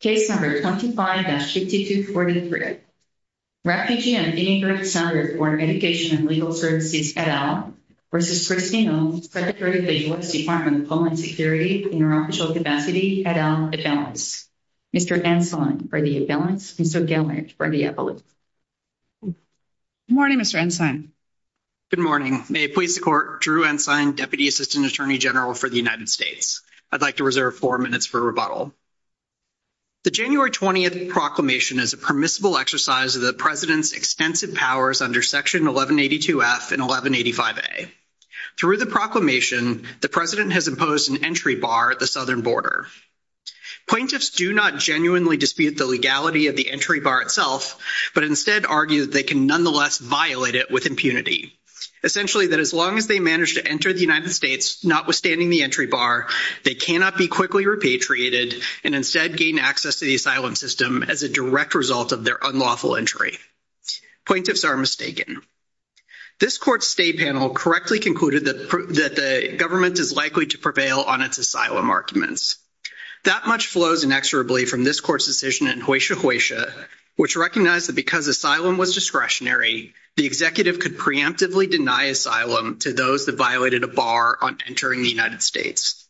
Case number 25-5243. Refugee and Immigrant Center for Education and Legal Services, et al, versus Kristi Noem, President of the U.S. Department of Homeland Security Interoperational Diversity, et al, Attendance. Mr. Ensign for the Attendance and Mr. Gellert for the Evaluation. Good morning, Mr. Ensign. Good morning. May it please the court, Drew Ensign, Deputy Assistant Attorney General for the United States. I'd like to reserve four minutes for rebuttal. The January 20th proclamation is a permissible exercise of the President's extensive powers under Section 1182F and 1185A. Through the proclamation, the President has imposed an entry bar at the southern border. Plaintiffs do not genuinely dispute the legality of the entry bar itself, but instead argue that they can nonetheless violate it with impunity. Essentially, that as long as they manage to enter the United States, notwithstanding the entry bar, they cannot be quickly repatriated and instead gain access to the asylum system as a direct result of their unlawful entry. Plaintiffs are mistaken. This Court's State Panel correctly concluded that the government is likely to prevail on its asylum arguments. That much flows inexorably from this Court's decision in Hueysha Hueysha, which recognized that because asylum was discretionary, the executive could preemptively deny asylum to those that violated a bar on the United States.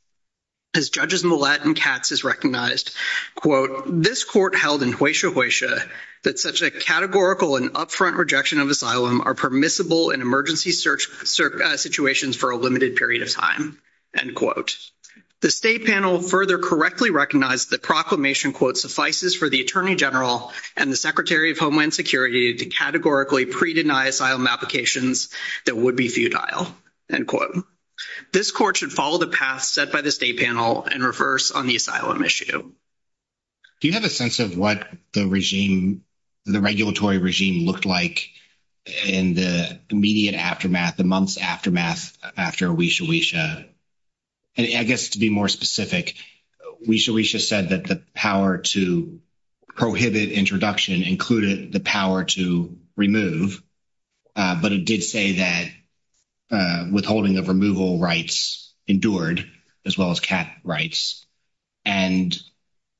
As Judges Millett and Katz has recognized, quote, this Court held in Hueysha Hueysha that such a categorical and upfront rejection of asylum are permissible in emergency situations for a limited period of time, end quote. The State Panel further correctly recognized that proclamation, quote, suffices for the Attorney General and the Secretary of Homeland Security to categorically pre-deny asylum applications that would be futile, end quote. This Court should follow the path set by the State Panel and reverse on the asylum issue. Do you have a sense of what the regime, the regulatory regime looked like in the immediate aftermath, the month's aftermath after Hueysha Hueysha? And I guess to be more specific, Hueysha Hueysha said that the power to prohibit introduction included the power to remove. But it did say that withholding of removal rights endured as well as cat rights. And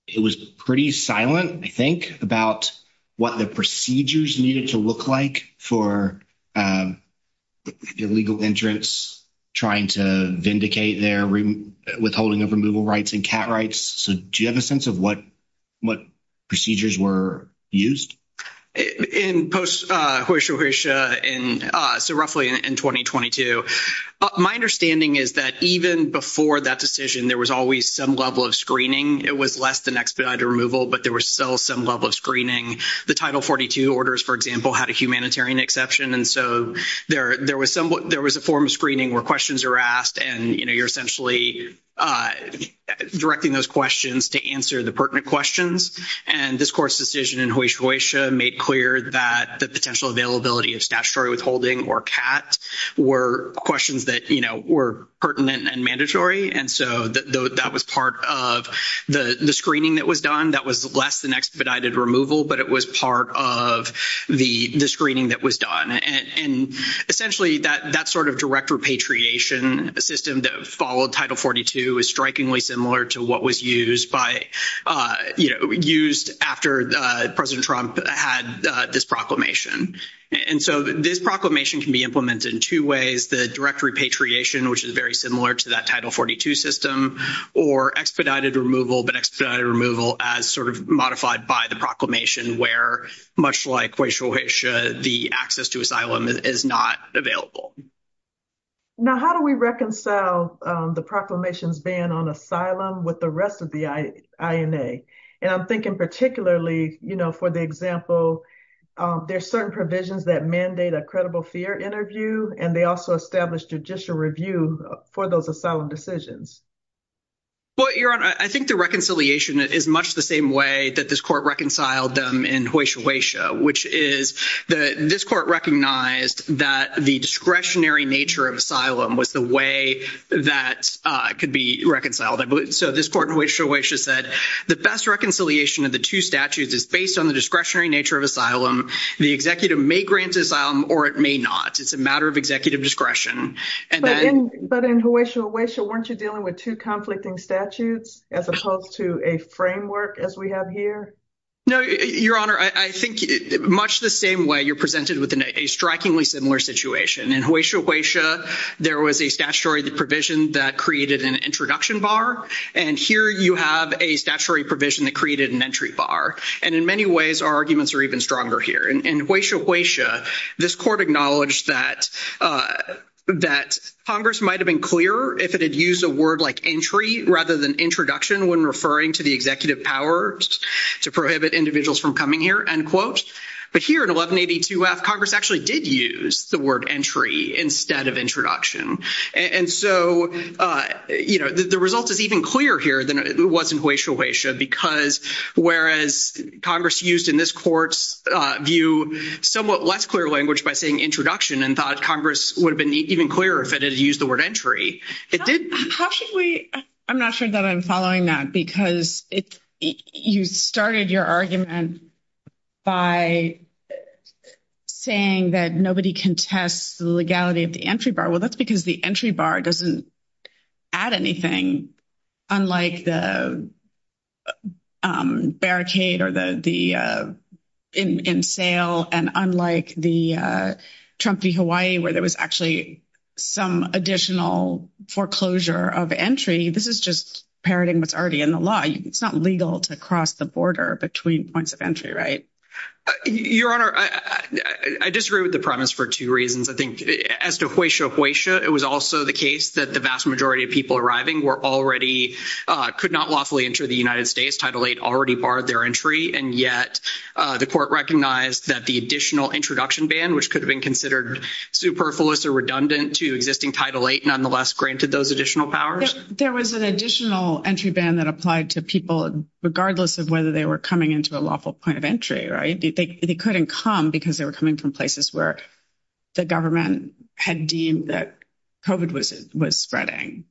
it was pretty silent, I think, about what the procedures needed to look like for the legal interests trying to vindicate their withholding of removal rights and cat rights. So do you have a sense of what procedures were used? In post-Hueysha Hueysha, so roughly in 2022, my understanding is that even before that decision, there was always some level of screening. It was less than expedited removal, but there was still some level of screening. The Title 42 orders, for example, had a humanitarian exception. And so there was a form of screening where questions are asked and, you know, you're essentially either directing those questions to answer the pertinent questions. And this course decision in Hueysha Hueysha made clear that the potential availability of statutory withholding or cats were questions that, you know, were pertinent and mandatory. And so that was part of the screening that was done. That was less than expedited removal, but it was part of the screening that was done. And essentially, that sort of direct repatriation system that followed Title 42 is strikingly similar to what was used after President Trump had this proclamation. And so this proclamation can be implemented in two ways, the direct repatriation, which is very similar to that Title 42 system, or expedited removal, but expedited removal as sort of modified by the proclamation, where, much like Hueysha Hueysha, the access to asylum is not available. Now, how do we reconcile the proclamation's ban on asylum with the rest of the INA? And I'm thinking particularly, you know, for the example, there's certain provisions that mandate a credible fear interview, and they also establish judicial review for those asylum decisions. Well, Your Honor, I think the reconciliation is much the same way that this Court reconciled them in Hueysha Hueysha, which is that this Court recognized that the discretionary nature of asylum was the way that could be reconciled. So this Court in Hueysha Hueysha said the best reconciliation of the two statutes is based on the discretionary nature of asylum. The executive may grant asylum, or it may not. It's a matter of executive discretion. But in Hueysha Hueysha, weren't you dealing with two conflicting statutes as opposed to a framework as we have here? No, Your Honor, I think much the same way you're presented with a strikingly similar situation. In Hueysha Hueysha, there was a statutory provision that created an introduction bar, and here you have a statutory provision that created an entry bar. And in many ways, our arguments are even stronger here. In Hueysha Hueysha, this Court acknowledged that Congress might have been clearer if it had used a word like entry rather than introduction when referring to the executive powers to prohibit individuals from coming here, end quote. But here at 1182-F, Congress actually did use the word entry instead of introduction. And so, you know, the result is even clearer here than it was in Hueysha Hueysha because whereas Congress used in this Court's view somewhat less clear language by saying introduction and thought Congress would have been even clearer if it had used the word entry, it didn't. I'm not sure that I'm following that because you started your argument by saying that nobody contests the legality of the entry bar. Well, that's because the entry bar doesn't add anything unlike the barricade or the in sale and unlike the Trump v. Hawaii where there was actually some additional foreclosure of entry. This is just parroting what's already in the law. It's not legal to cross the border between points of entry, right? Your Honor, I disagree with the premise for two reasons. I think as to Hueysha Hueysha, it was also the case that the vast majority of people arriving were already, could not lawfully enter the United States. Title VIII already barred their entry. And yet the Court recognized that the additional introduction ban, which could have been considered superfluous or redundant to existing Title VIII, nonetheless granted those additional powers. There was an additional entry ban that applied to people regardless of whether they were coming into a lawful point of entry, right? They couldn't come because they were coming from places where the government had deemed that COVID was spreading.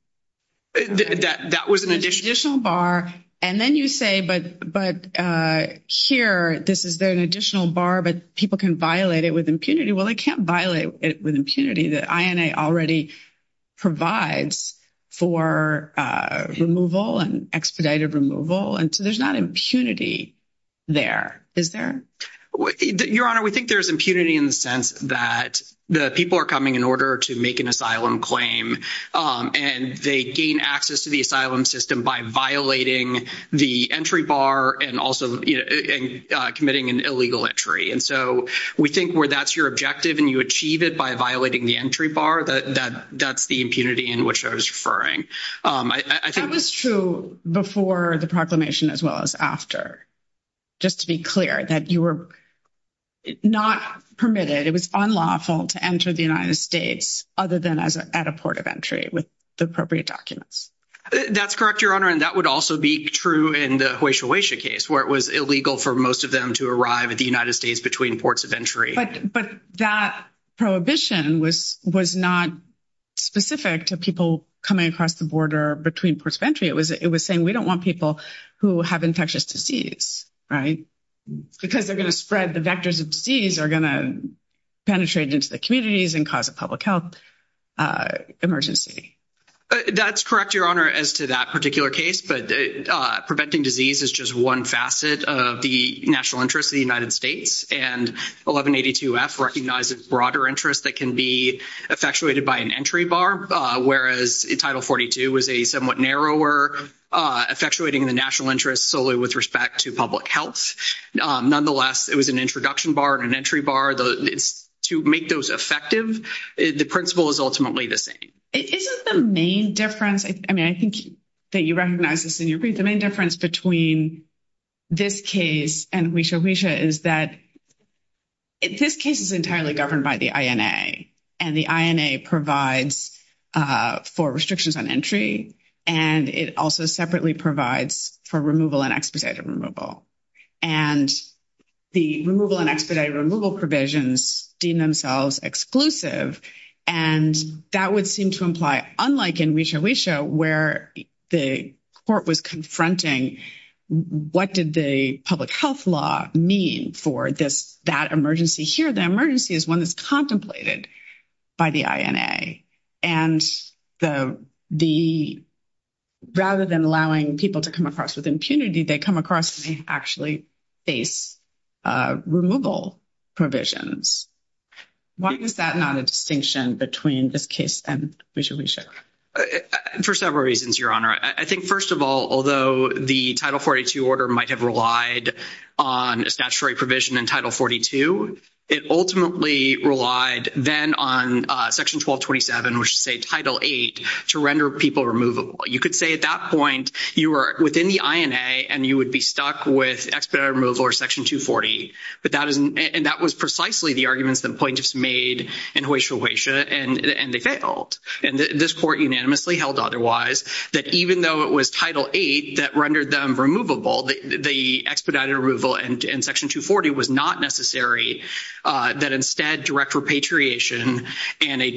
That was an additional bar. And then you say, but here, this is an additional bar, but people can violate it with impunity. Well, they can't violate it with impunity. The INA already provides for removal and expedited removal. And so there's not impunity there, is there? Your Honor, we think there's impunity in the sense that the people are coming in order to make an asylum claim and they gain access to the asylum system by violating the entry bar and also committing an illegal entry. And so we think where that's your objective and you achieve it by violating the entry bar, that's the impunity in which I was referring. That was true before the proclamation as well as after, just to be clear, that you were not permitted, it was unlawful to enter the United States other than at a port of entry with the appropriate documents. That's true in the Hoysia Hoysia case where it was illegal for most of them to arrive at the United States between ports of entry. But that prohibition was not specific to people coming across the border between ports of entry. It was saying we don't want people who have infectious disease, right? Because they're going to spread the vectors of disease are going to penetrate into the communities and cause a public health emergency. That's correct, Your Honor, as to that particular case. But preventing disease is just one facet of the national interest of the United States. And 1182F recognizes broader interests that can be effectuated by an entry bar, whereas in Title 42 was a somewhat narrower effectuating the national interest solely with respect to public health. Nonetheless, it was an introduction bar and an entry bar. To make those effective, the principle is ultimately the same. Isn't the main difference, I mean, I think that you recognize this in your brief, the main difference between this case and Hoysia Hoysia is that this case is entirely governed by the INA and the INA provides for restrictions on entry and it also separately provides for removal and expedited removal. And the removal and expedited provisions deem themselves exclusive. And that would seem to imply, unlike in Hoysia Hoysia, where the court was confronting what did the public health law mean for this, that emergency here, the emergency is one that's contemplated by the INA. And the rather than allowing people to come across with impunity, they come across and they actually face removal provisions. Why is that not a distinction between this case and Hoysia Hoysia? For several reasons, Your Honor. I think, first of all, although the Title 42 order might have relied on a statutory provision in Title 42, it ultimately relied then on Section 1227, which is Title 8, to render people removable. You could say at that point, you were within the INA and you would be stuck with expedited removal or Section 240. And that was precisely the arguments the plaintiffs made in Hoysia Hoysia and they failed. And this court unanimously held otherwise that even though it was Title 8 that rendered them removable, the expedited removal and Section 240 was not necessary, that instead direct repatriation and an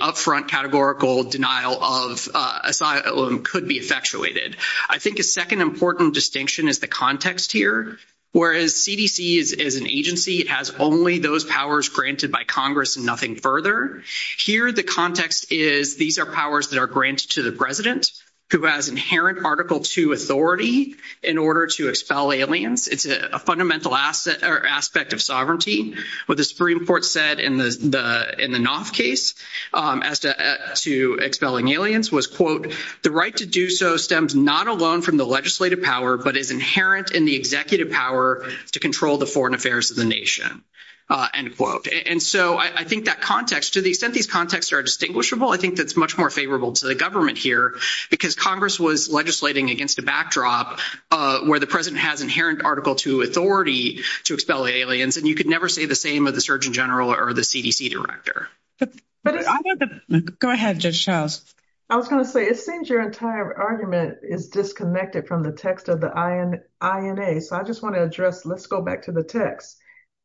upfront categorical denial of asylum could be effectuated. I think a second important distinction is the context here. Whereas CDC is an agency, it has only those powers granted by Congress and nothing further. Here, the context is these are powers that are granted to the President, who has inherent Article 2 authority in order to expel aliens. It's a fundamental aspect of sovereignty. What the Supreme Court said in the Knopf case as to expelling aliens was, quote, the right to do so stems not alone from the legislative power, but is inherent in the executive power to control the foreign affairs of the nation, end quote. And so I think that context, to the extent these contexts are distinguishable, I think that's much more because Congress was legislating against a backdrop where the President has inherent Article 2 authority to expel aliens, and you could never say the same of the Surgeon General or the CDC director. But I want to go ahead, Judge Charles. I was going to say, it seems your entire argument is disconnected from the text of the INA. So I just want to address, let's go back to the text.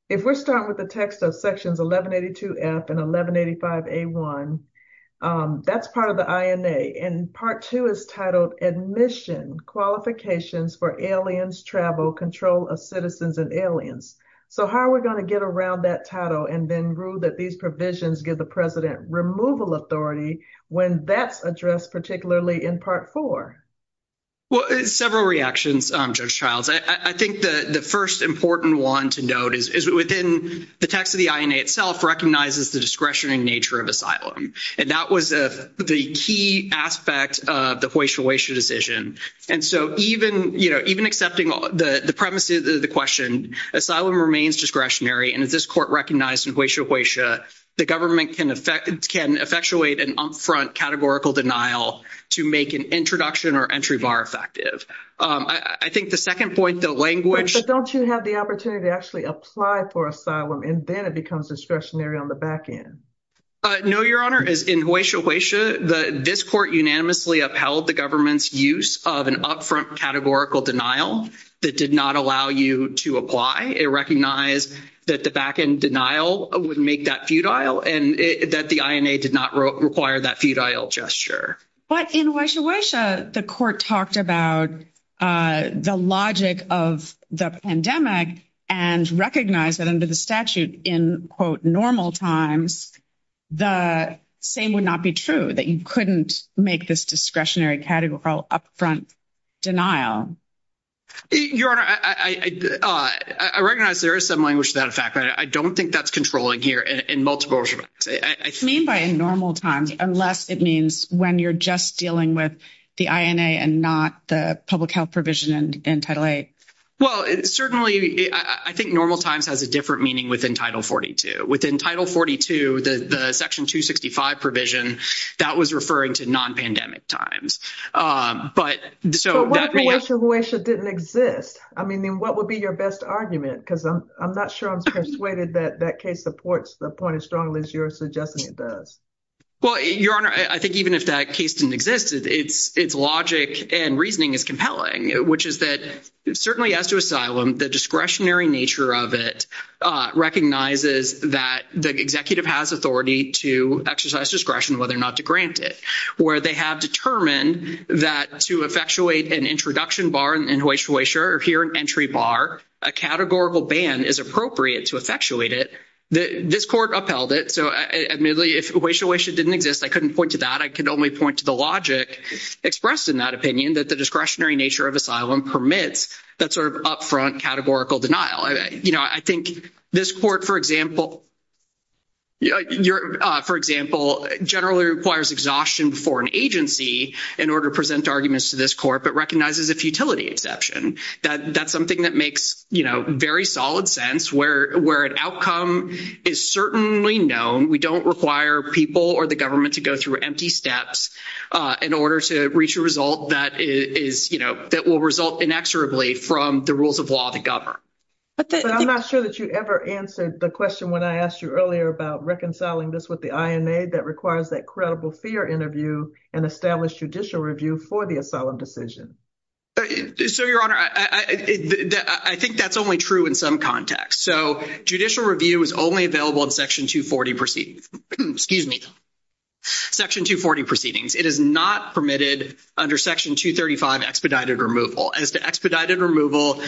If we're starting with the text of Sections 1182F and 1185A1, that's part of the INA and Part 2 is titled, Admission Qualifications for Aliens Travel Control of Citizens and Aliens. So how are we going to get around that title and then rule that these provisions give the President removal authority when that's addressed particularly in Part 4? Well, several reactions, Judge Charles. I think the first important one to note is within the text of the INA itself recognizes the discretion and nature of asylum. And that was the key aspect of the Hueysha-Hueysha decision. And so even, you know, even accepting the premises of the question, asylum remains discretionary. And as this Court recognized in Hueysha-Hueysha, the government can effectuate an upfront categorical denial to make an introduction or entry bar effective. I think the second point, the language- But don't you have the opportunity to actually apply for asylum and then it becomes discretionary on the back end? No, Your Honor. In Hueysha-Hueysha, this Court unanimously upheld the government's use of an upfront categorical denial that did not allow you to apply. It recognized that the back end denial would make that futile and that the INA did not require that futile gesture. But in Hueysha-Hueysha, the Court talked about the logic of the pandemic and recognized that the statute in, quote, normal times, the same would not be true, that you couldn't make this discretionary categorical upfront denial. Your Honor, I recognize there is some language to that effect. I don't think that's controlling here in multiple- What do you mean by in normal times unless it means when you're just dealing with the INA and not the public health provision in Title VIII? Well, certainly, I think normal times has a meaning within Title XLII. Within Title XLII, the Section 265 provision, that was referring to non-pandemic times. But so- But what if Hueysha-Hueysha didn't exist? I mean, what would be your best argument? Because I'm not sure I'm persuaded that that case supports the point as strongly as you're suggesting it does. Well, Your Honor, I think even if that case didn't exist, its logic and reasoning is recognizes that the executive has authority to exercise discretion whether or not to grant it, where they have determined that to effectuate an introduction bar in Hueysha-Hueysha or here an entry bar, a categorical ban is appropriate to effectuate it. This Court upheld it. So, admittedly, if Hueysha-Hueysha didn't exist, I couldn't point to that. I could only point to the logic expressed in that opinion that the discretionary nature of asylum permits that sort of upfront categorical denial. I think this Court, for example, generally requires exhaustion for an agency in order to present arguments to this Court but recognizes a futility exception. That's something that makes very solid sense where an outcome is certainly known. We don't require people or the government to go through empty steps in order to reach a result that is, you know, from the rules of law to govern. But I'm not sure that you ever answered the question when I asked you earlier about reconciling this with the INA that requires that credible fear interview and established judicial review for the asylum decision. So, Your Honor, I think that's only true in some context. So, judicial review is only available in Section 240 proceedings. It is not permitted under Section 235 expedited removal. As to expedited removal,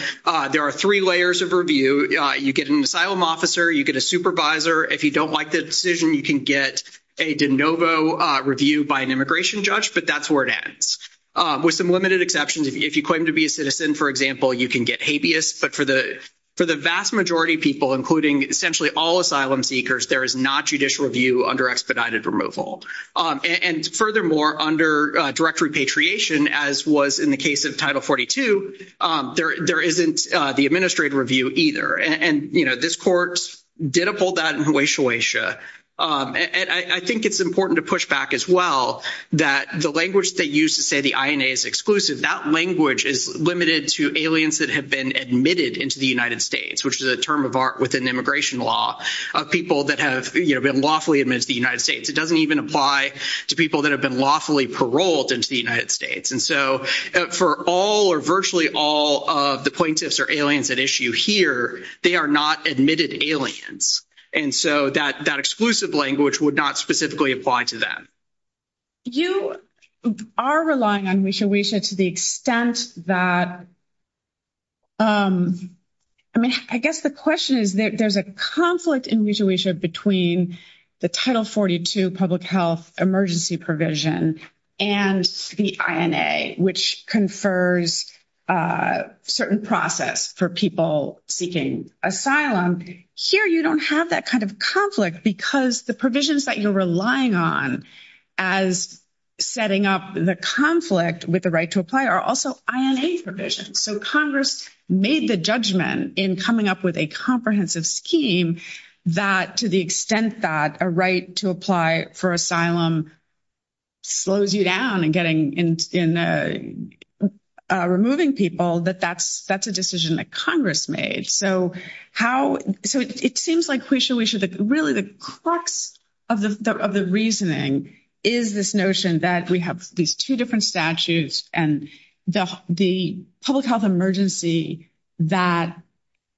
there are three layers of review. You get an asylum officer, you get a supervisor. If you don't like the decision, you can get a de novo review by an immigration judge, but that's where it ends. With some limited exceptions, if you claim to be a citizen, for example, you can get habeas. But for the vast majority people, including essentially all asylum seekers, there is not judicial review under expedited removal. And furthermore, under direct repatriation, as was in the case of Title 42, there isn't the administrative review either. And, you know, this court did uphold that in Hawesha, Hawesha. And I think it's important to push back as well that the language they use to say the INA is exclusive, that language is limited to aliens that have been admitted into the United States, which is a term of art within immigration law of people that have, you know, been lawfully admitted to the United States. It doesn't even apply to people that have been lawfully paroled into the United States. And so for all or virtually all of the plaintiffs or aliens at issue here, they are not admitted aliens. And so that exclusive language would not specifically apply to them. You are relying on mutual asia to the extent that, I mean, I guess the question is there's a conflict in mutual asia between the Title 42 public health emergency provision and the INA, which confers a certain process for people seeking asylum. Here you don't have that kind of conflict because the provisions that you're relying on as setting up the conflict with the right to apply are also INA provisions. So Congress made the judgment in coming up with a comprehensive scheme that to the extent that a right to apply for asylum slows you down in removing people, that that's a decision that Congress made. So it seems like really the crux of the reasoning is this notion that we have these two different statutes and the public health emergency that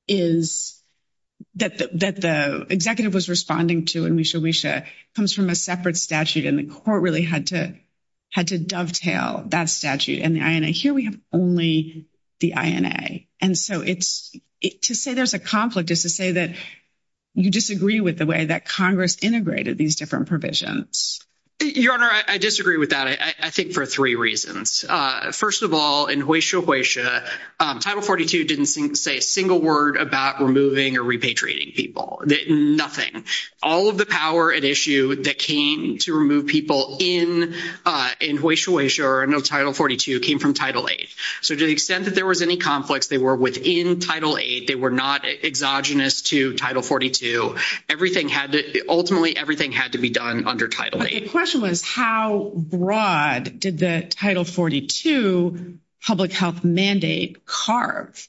the executive was responding to in mutual asia comes from a separate statute and the court really had to dovetail that statute and the INA. Here we have only the INA. And so to say there's a conflict is to say that you disagree with the way that Congress integrated these different provisions. Your Honor, I disagree with that, I think, for three reasons. First of all, in hoysia hoysia, Title 42 didn't say a single word about removing or repatriating people. Nothing. All of the power at issue that came to remove people in hoysia hoysia or under Title 42 came from Title 8. So to the extent that there was any conflicts, they were within Title 8. They were not exogenous to Title 42. Everything had to, ultimately everything had to be done under Title 8. The question was how broad did the Title 42 public health mandate carve?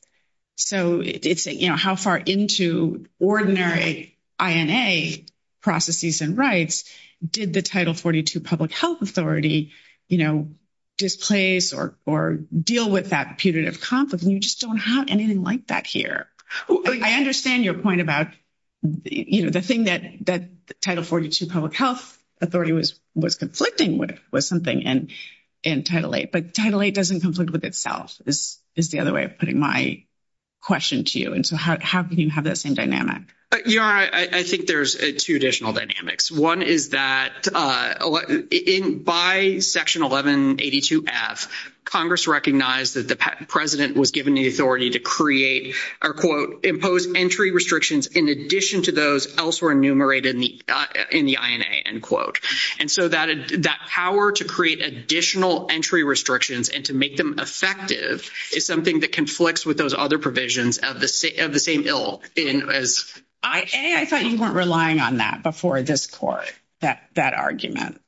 So it's, you know, how far into ordinary INA process use and rights did the Title 42 public health authority, you know, displace or deal with that punitive conflict? And you just don't have anything like that here. I understand your point about, you know, the thing that Title 42 public health authority was conflicting with was something and Title 8. But Title 8 doesn't conflict with itself is the other way of putting my question to you. And so how can you have that same dynamic? Your Honor, I think there's two additional dynamics. One is that by Section 1182F, Congress recognized that the president was given the authority to create or, quote, impose entry restrictions in addition to those elsewhere enumerated in the INA, end quote. And so that power to create additional entry restrictions and to make them effective is something that conflicts with those other provisions of the same bill. I thought you weren't relying on that before this Court, that argument.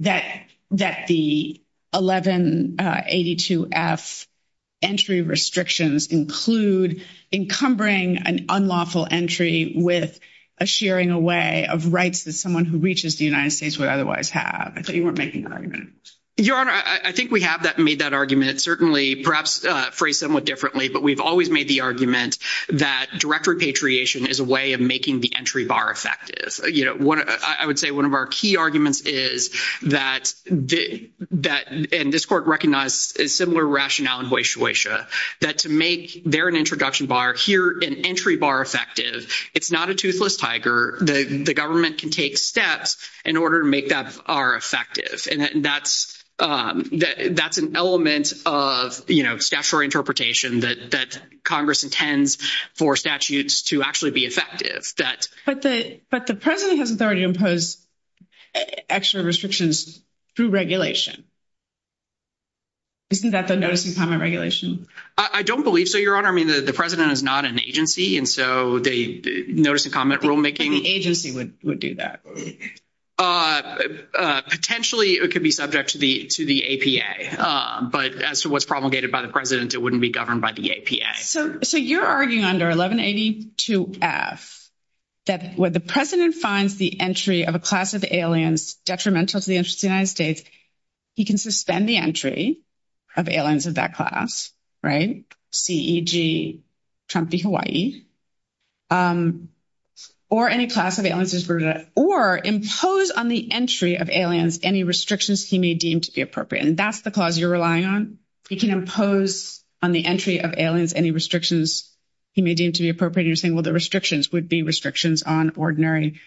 That the 1182F entry restrictions include encumbering an unlawful entry with a shearing away of rights that someone who reaches the United States would otherwise have. I thought you weren't making that argument. Your Honor, I think we have made that argument. Certainly, perhaps phrased somewhat differently, but we've always made the argument that direct repatriation is a way of making the entry bar effective. You know, I would say one of our key arguments is that, and this Court recognized a similar rationale in Hoysha Hoysha, that to make there an introduction bar, here an entry bar effective, it's not a toothless tiger. The government can take steps in order to make that bar effective. And that's an element of, you know, interpretation that Congress intends for statutes to actually be effective. But the President has authority to impose extra restrictions through regulation. Isn't that the notice and comment regulation? I don't believe so, Your Honor. I mean, the President is not an agency, and so the notice and comment rulemaking... Any agency would do that. Potentially, it could be subject to the APA, but as to what's promulgated by the President, it wouldn't be governed by the APA. So you're arguing under 1182F that when the President finds the entry of a class of aliens detrimental to the interests of the United States, he can suspend the entry of aliens of that class, right? C, E, G, Trump, Hawaii, or any class of aliens is rooted, or impose on the entry of aliens any restrictions he may deem to be appropriate. And that's the clause you're relying on. He can impose on the entry of aliens any restrictions he may deem to be appropriate. You're saying, well, the restrictions would be restrictions on ordinary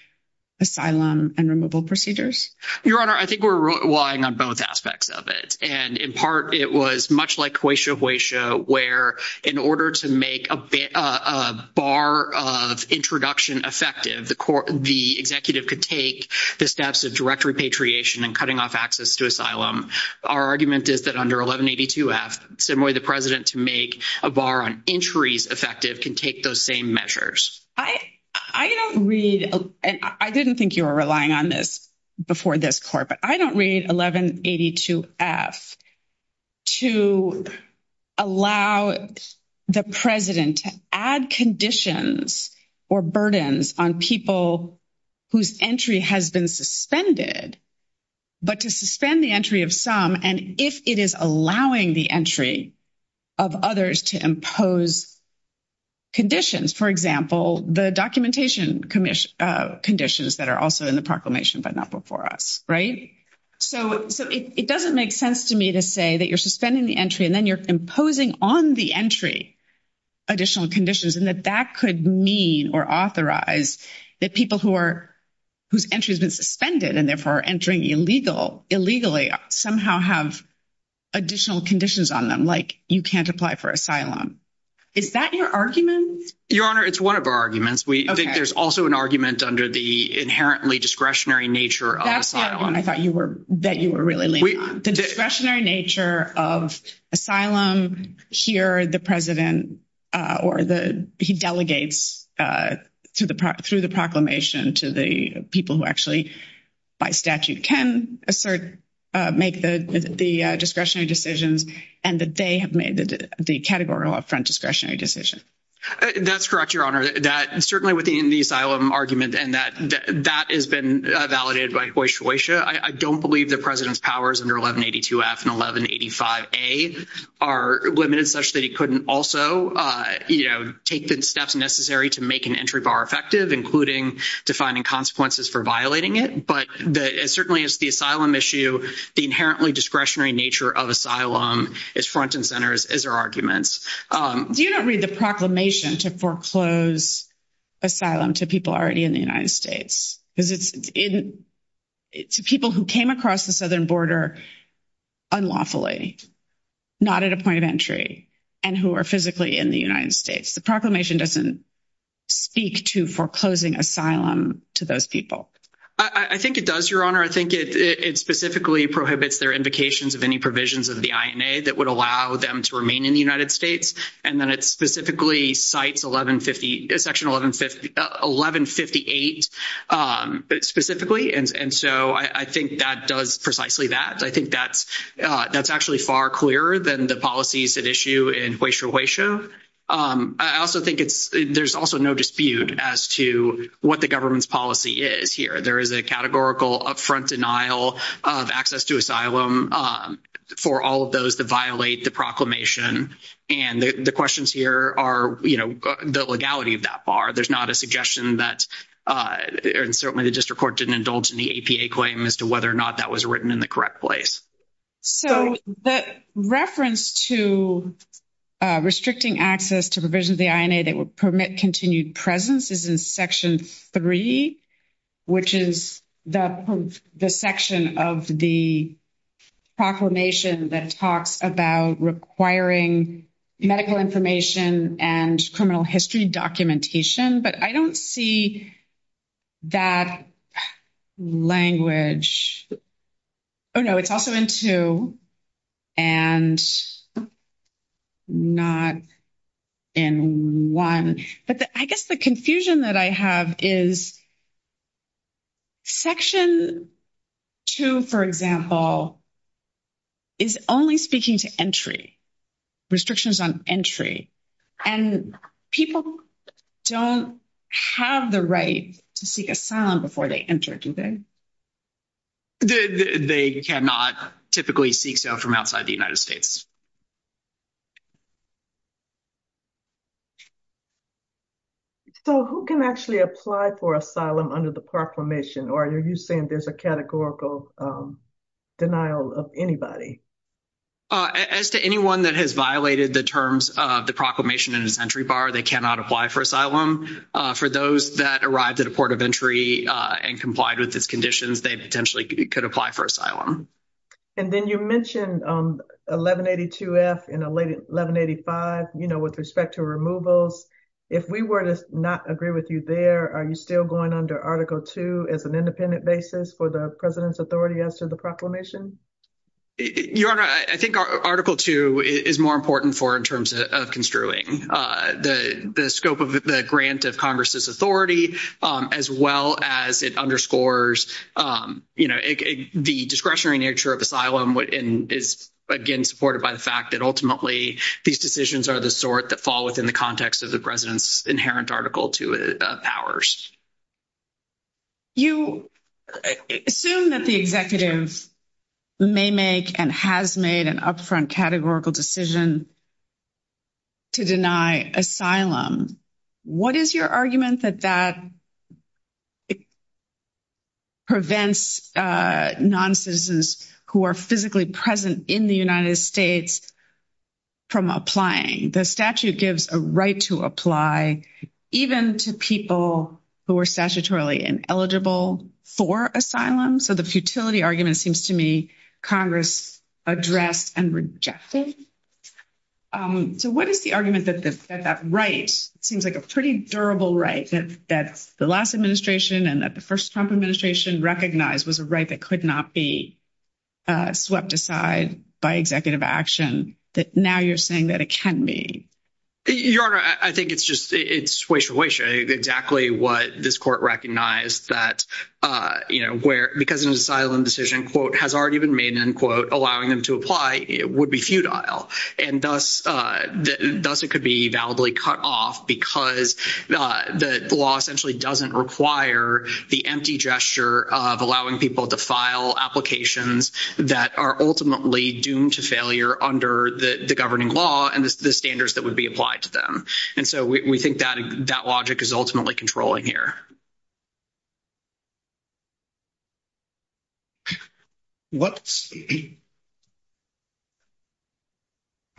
asylum and removal procedures? Your Honor, I think we're relying on both aspects of it. And in part, it was much like Hoysia Hoysia, where in order to make a bar of introduction effective, the executive could take the steps of direct repatriation and cutting off access to asylum. Our argument is that under 1182F, some way the President to make a bar on entries effective can take those same measures. I don't read, and I didn't think you were relying on this before this Court, but I don't read 1182F to allow the President to add conditions or burdens on people whose entry has been suspended, but to suspend the entry of some. And if it is allowing the entry of others to impose conditions, for example, the documentation conditions that are also in the proclamation, but not before us, right? So it doesn't make sense to me to say that you're suspending the entry and then you're imposing on the entry additional conditions and that that could mean or authorize that people whose entry has been suspended and therefore are entering illegally somehow have additional conditions on them, like you can't apply for asylum. Is that your argument? Your Honor, it's one of our arguments. There's also an argument under the inherently discretionary nature of asylum. That's the other one I thought that you were really leaning on. The discretionary nature of asylum here, the President, or he delegates through the proclamation to the people who actually, by statute, can assert, make the discretionary decisions, and that they have made the categorical front discretionary decision. That's correct, Your Honor, that certainly within the asylum argument and that has been validated by Hoysha Hoysha. I don't believe the President's powers under 1182F and 1185A are limited such that he couldn't also take the steps necessary to make an entry bar effective, including defining consequences for violating it. But it certainly is the asylum issue, the inherently discretionary nature of asylum, its front and centers, is our argument. You don't read the proclamation to foreclose asylum to people already in the United States, because it's to people who came across the southern border unlawfully, not at a point of entry, and who are physically in the United States. The proclamation doesn't speak to foreclosing asylum to those people. I think it does, Your Honor. I think it specifically prohibits their invocations of any provisions of the INA that would allow them to remain in the United States. And then it specifically cites Section 1158 specifically. And so I think that does precisely that. I think that's actually far clearer than the policies at issue in Hoysha Hoysha. I also think there's also no dispute as to what the government's policy is here. There is a upfront denial of access to asylum for all of those that violate the proclamation. And the questions here are, you know, the legality of that bar. There's not a suggestion that, and certainly the district court didn't indulge in the APA claim as to whether or not that was written in the correct place. So that reference to restricting access to provisions of the INA that would permit continued presence is in Section 3, which is the section of the proclamation that talks about requiring medical information and criminal history documentation. But I don't see that language. Oh, no, it's also in 2 and not in 1. But I guess the confusion that I have is Section 2, for example, is only speaking to entry, restrictions on entry. And people don't have the right to seek asylum before they enter, do they? They cannot typically seek so from outside the United States. So who can actually apply for asylum under the proclamation? Or are you saying there's a proclamation in the entry bar, they cannot apply for asylum? For those that arrived at a port of entry and complied with its conditions, they potentially could apply for asylum. And then you mentioned 1182F and 1185, you know, with respect to removals. If we were to not agree with you there, are you still going under Article 2 as an independent basis for the President's Authority as to the proclamation? Your Honor, I think Article 2 is more important for in terms of construing the scope of the grant of Congress's authority, as well as it underscores, you know, the discretionary nature of asylum and is, again, supported by the fact that ultimately these decisions are the sort that fall within the context of the President's inherent Article 2 powers. You assume that the executive may make and has made an upfront categorical decision to deny asylum. What is your argument that that prevents non-citizens who are physically present in the United States from applying? The statute gives a right to apply even to people who are statutorily ineligible for asylum. So the futility argument seems to me Congress addressed and rejected. So what is the argument that that right seems like a pretty durable right that the last administration and that the first Trump administration recognized was a right that could not be swept aside by executive action, that now you're saying that it can be? Your Honor, I think it's just it's wishful wishing exactly what this court recognized that, you know, where because an asylum decision, quote, has already been made, unquote, allowing them to apply, it would be futile. And thus it could be validly cut off because the law essentially doesn't require the empty gesture of allowing people to file applications that are ultimately doomed to failure under the governing law and the standards that would be applied to them. And so we think that logic is ultimately controlling here. I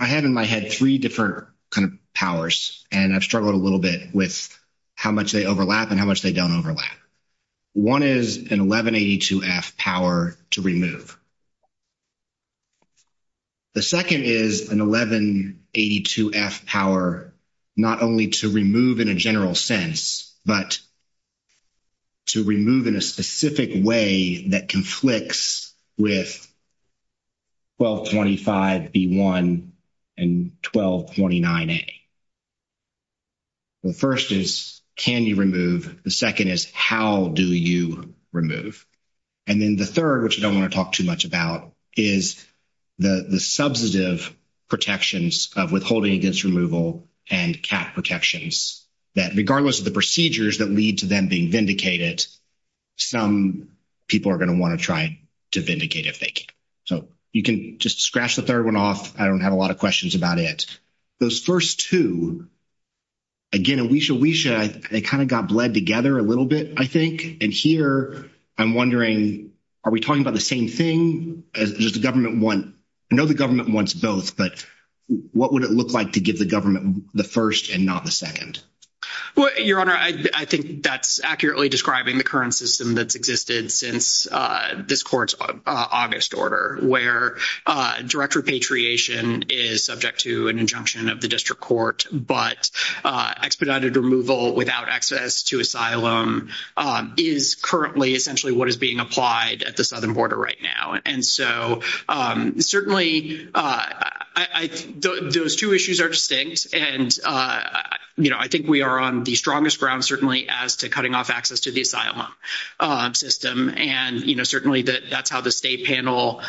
have in my head three different kind of powers, and I've struggled a little bit with how much they overlap and how much they don't overlap. One is an 1182-F power to remove. The second is an 1182-F power not only to remove in a general sense, but to remove in a specific way that conflicts with 1225-B1 and 1229-A. The first is can you remove? The second is how do you is the substantive protections of withholding against removal and cap protections that regardless of the procedures that lead to them being vindicated, some people are going to want to try to vindicate if they can. So you can just scratch the third one off. I don't have a lot of questions about it. Those first two, again, a wish a wish, they kind of got bled together a little bit, I think. And here, I'm wondering, are we talking about the same thing? I know the government wants both, but what would it look like to give the government the first and not the second? Well, Your Honor, I think that's accurately describing the current system that's existed since this court's August order, where direct repatriation is subject to an injunction of the is currently essentially what is being applied at the southern border right now. And so, certainly, those two issues are distinct. And, you know, I think we are on the strongest ground, certainly, as to cutting off access to the asylum system. And, you know, certainly that's how the state panel,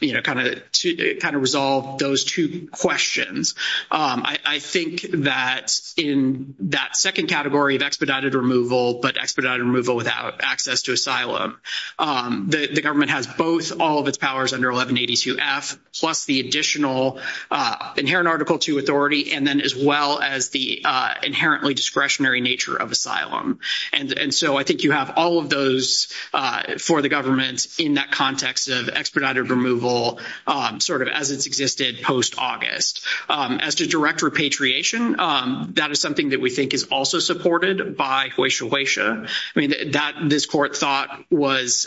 you know, kind of resolved those two questions. I think that in that second category of expedited removal, but expedited removal without access to asylum, the government has both all of its powers under 1182F, plus the additional inherent Article II authority, and then as well as the inherently discretionary nature of asylum. And so I think you have all of those for the government in that context of expedited removal, sort of as it's existed post August. As to direct repatriation, that is something that we think is also supported by Huesha Huesha. I mean, that this court thought was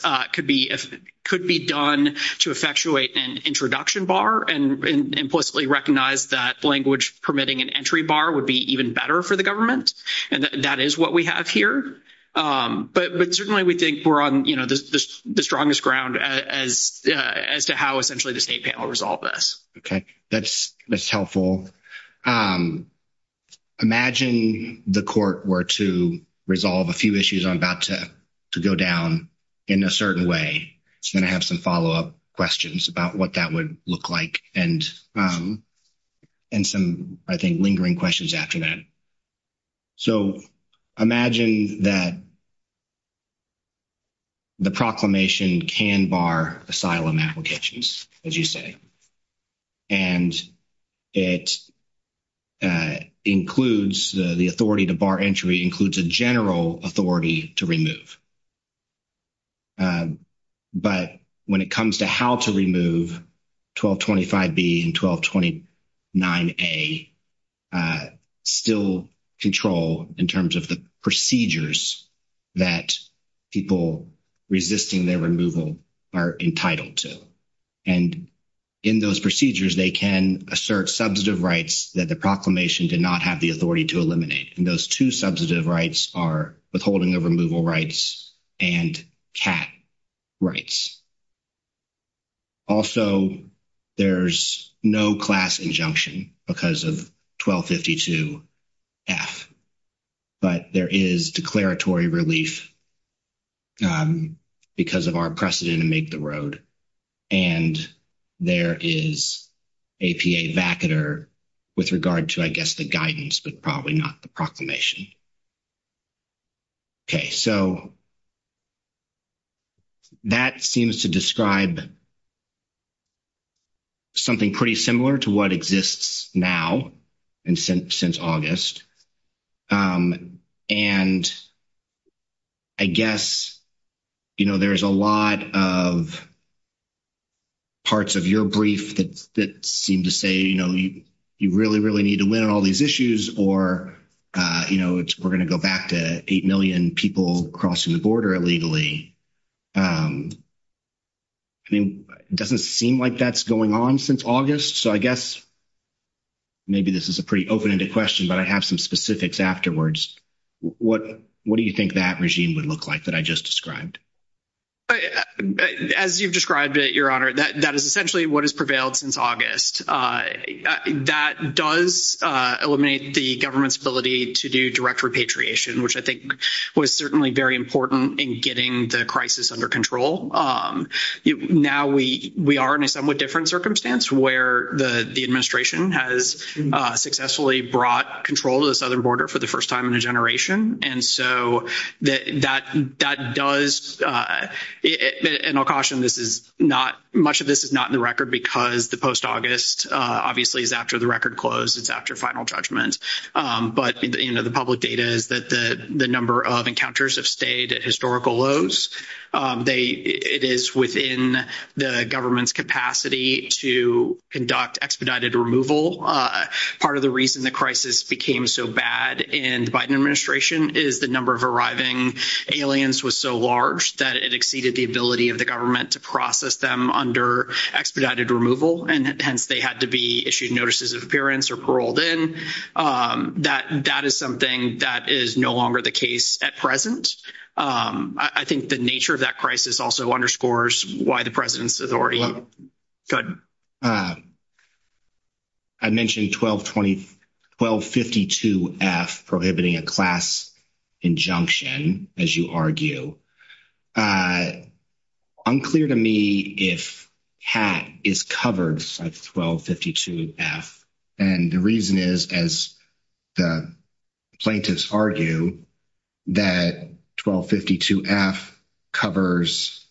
could be done to effectuate an introduction bar and implicitly recognize that language permitting an entry bar would be even better for the government. And that is what we have here. But certainly, we think we're on, you know, the strongest ground as to how essentially the state panel resolved this. Okay. That's helpful. Imagine the court were to resolve a few issues I'm about to go down in a certain way. I'm going to have some follow-up questions about what that would look like and some, I think, lingering questions after that. So imagine that the proclamation can bar asylum applications, as you say. And it includes the authority to bar entry includes a general authority to remove. But when it comes to how to remove 1225B and 1229A I still control in terms of the procedures that people resisting their removal are entitled to. And in those procedures, they can assert substantive rights that the proclamation did not have the authority to eliminate. And those two substantive rights are holding of removal rights and CAT rights. Also, there's no class injunction because of 1252F. But there is declaratory relief because of our precedent to make the road. And there is APA vacater with regard to, I guess, the guidance, but probably not the proclamation. Okay. So that seems to describe something pretty similar to what exists now and since August. And I guess, you know, there's a lot of parts of your brief that seem to say, you know, you really, really need to win all these issues or, you know, we're going to go back to 8 million people crossing the border illegally. I mean, it doesn't seem like that's going on since August. So I guess maybe this is a pretty open-ended question, but I have some specifics afterwards. What do you think that regime would look like that I just described? As you've described it, Your Honor, that is essentially what has prevailed since August. That does eliminate the government's ability to do direct repatriation, which I think was certainly very important in getting the crisis under control. Now we are in a somewhat different circumstance where the administration has successfully brought control of the southern border for the first time in a generation. And so that does, and I'll caution, much of this is not in the record because the post-August obviously is after the record closed, it's after final judgment. But, you know, the public data is that the number of encounters have stayed at historical lows. It is within the government's capacity to conduct expedited removal. Part of the reason the crisis became so bad in the Biden administration is the number of arriving aliens was so large that it exceeded the ability of the government to process them under expedited removal, and hence they had to be issued notices of appearance or paroled in. That is something that is no longer the case at present. I think the nature of that crisis also underscores why the President's authority. Go ahead. I mentioned 1252-F prohibiting a class injunction, as you argue. Unclear to me if that is covered by 1252-F. And the reason is, as the plaintiffs argue, that 1252-F covers,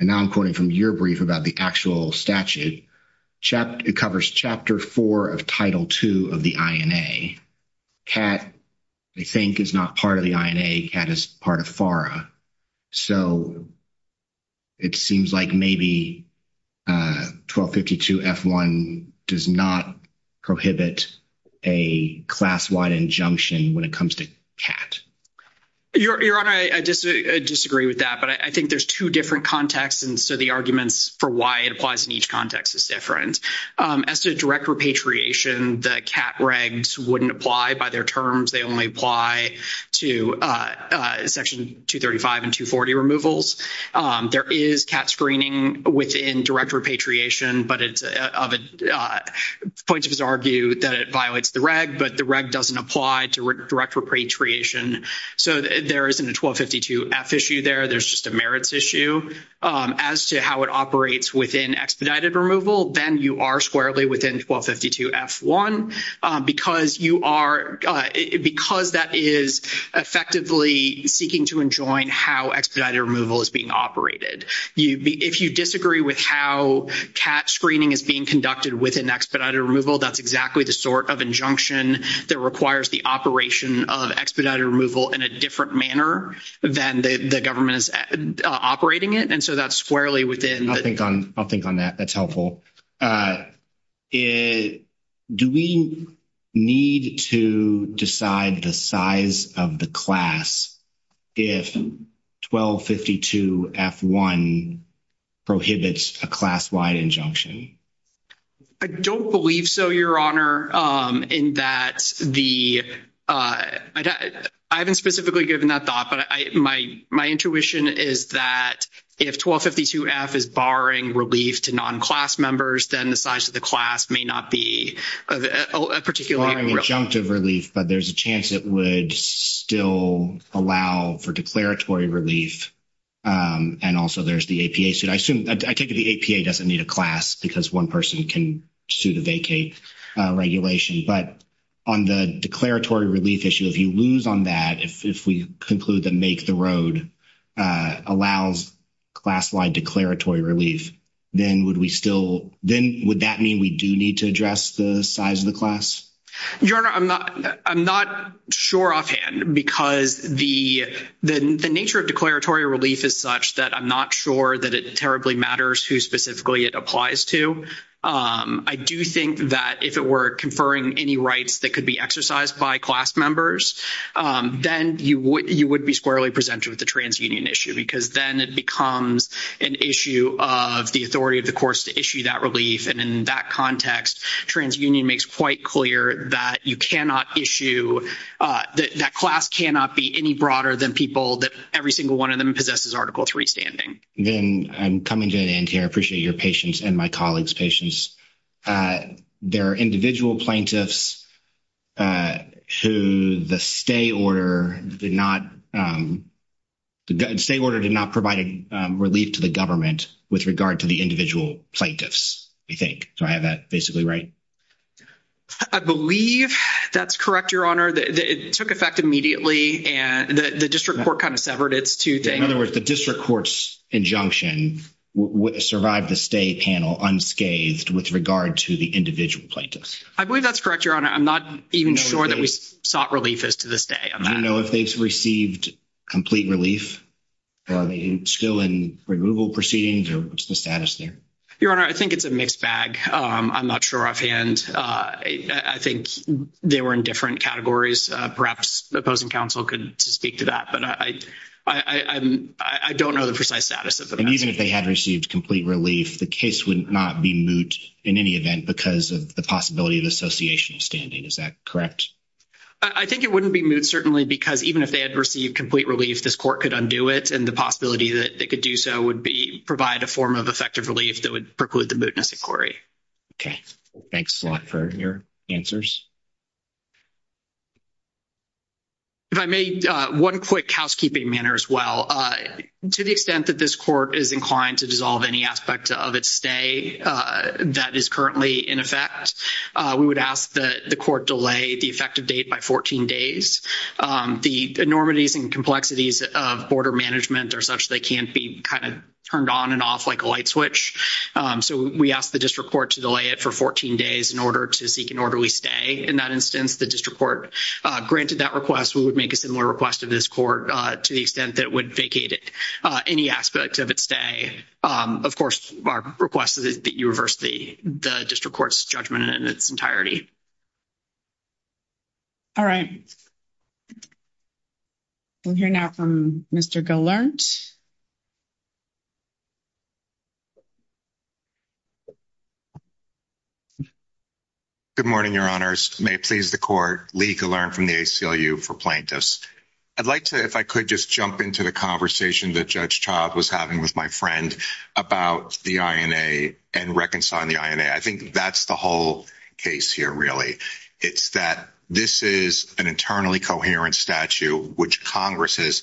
and now I'm quoting from your brief about the actual statute, it covers Chapter 4 of Title 2 of the INA. Cat, they think, is not part of the INA. Cat is part of FARA. So it seems like maybe 1252-F1 does not prohibit a class-wide injunction when it comes to that. Your Honor, I disagree with that, but I think there's two different contexts, and so the arguments for why it applies in each context is different. As to direct repatriation, the cat regs wouldn't apply by their terms. They only apply to Section 235 and 240 removals. There is cat screening within direct repatriation, but the plaintiffs argue that it violates the reg, but the reg doesn't apply to direct repatriation. So there isn't a 1252-F issue there. There's just a merits issue. As to how it operates within expedited removal, then you are squarely within 1252-F1 because that is effectively seeking to enjoin how expedited removal is being operated. If you disagree with how cat screening is being conducted within expedited removal, that's exactly the sort of injunction that requires the operation of expedited removal in a different manner than the government's operating it, and so that's squarely within. I'll think on that. That's helpful. Do we need to decide the size of the class if 1252-F1 prohibits a class-wide injunction? I don't believe so, Your Honor, in that the—I haven't specifically given that thought, but my intuition is that if 1252-F is barring relief to non-class members, then the size of the class may not be a particular— Barring injunctive relief, but there's a chance it would still allow for declaratory relief, and also there's the APA. I take it the APA doesn't need a class because one person can sue the vacate regulation, but on the declaratory relief issue, if he looms on that, if we conclude that Make the Road allows class-wide declaratory relief, then would we still—then would that mean we do need to address the size of the class? Your Honor, I'm not sure offhand because the nature of declaratory relief is such that I'm not sure that it terribly matters who specifically it applies to. I do think that if it were conferring any rights that could be exercised by class members, then you would be squarely presumptive of the transunion issue because then it becomes an issue of the authority of the courts to issue that relief, and in that context, transunion makes quite clear that you cannot issue—that class cannot be any broader than people—that every single one of them possesses Article 3 standing. Again, I'm coming to an end here. I appreciate your patience and my colleagues' patience. There are individual plaintiffs who the state order did not—the state order did not provide relief to the government with regard to the individual plaintiffs, you think. Do I have that basically right? I believe that's correct, Your Honor. It took effect immediately, and the district court kind of severed its two things. In other words, the district court's injunction survived the stay panel unscathed with regard to the individual plaintiffs. I believe that's correct, Your Honor. I'm not even sure that we sought relief as to this day on that. I don't know if they received complete relief. Are they still in removal proceedings, or what's the status there? Your Honor, I think it's a mixed bag. I'm not sure offhand. I think they were in different categories. Perhaps the opposing counsel could speak to that, but I don't know the precise status of the plaintiffs. And even if they had received complete relief, the case would not be moot in any event because of the possibility of association standing. Is that correct? I think it wouldn't be moot, certainly, because even if they had received complete relief, this court could undo it, and the possibility that it could do so would be provide a form of effective relief that would preclude the mootness inquiry. Okay. Thanks a lot for your answers. If I may, one quick housekeeping matter as well. To the extent that this court is inclined to dissolve any aspect of its stay that is currently in effect, we would ask that the court delay the effective date by 14 days. The enormities and complexities of border management are such that can be kind of turned on and off like a light switch. So we ask the district court to delay it for 14 days in order to seek an orderly stay. In that instance, the district court granted that request. We would make a similar request to this court to the extent that it would vacate any aspect of its stay. Of course, our request is that you reverse the district court's judgment in its entirety. All right. We'll hear now from Mr. Gallant. Good morning, Your Honors. May it please the court, Lee Gallant from the ACLU for Plaintiffs. I'd like to, if I could, just jump into the conversation that Judge Child was having with my friend about the INA and reconciling the INA. I think that's the whole case here, really. It's that this is an eternally coherent statute, which Congress has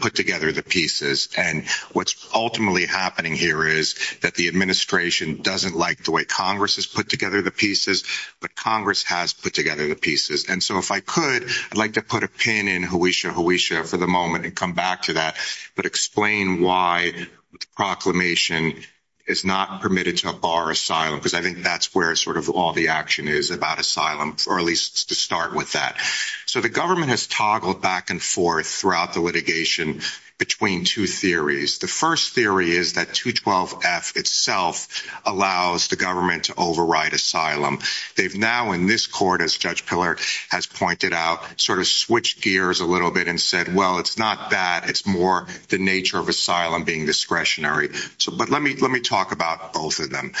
put together the pieces. And what's ultimately happening here is that the administration doesn't like the way Congress has put together the pieces, but Congress has put together the pieces. And so if I could, I'd like to put a pin in Hoosier, Hoosier for the moment and come back to that, but explain why the proclamation is not permitted to bar asylum. Because I think that's where sort of all the about asylum, or at least to start with that. So the government has toggled back and forth throughout the litigation between two theories. The first theory is that 212F itself allows the government to override asylum. They've now in this court, as Judge Pillard has pointed out, sort of switched gears a little bit and said, well, it's not that, it's more the nature of asylum being discretionary. So, but let me, let me talk about both of them.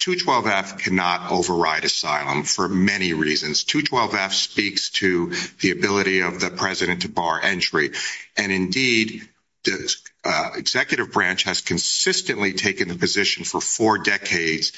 212F cannot override asylum for many reasons. 212F speaks to the ability of the president to bar entry. And indeed, executive branch has consistently taken the position for four decades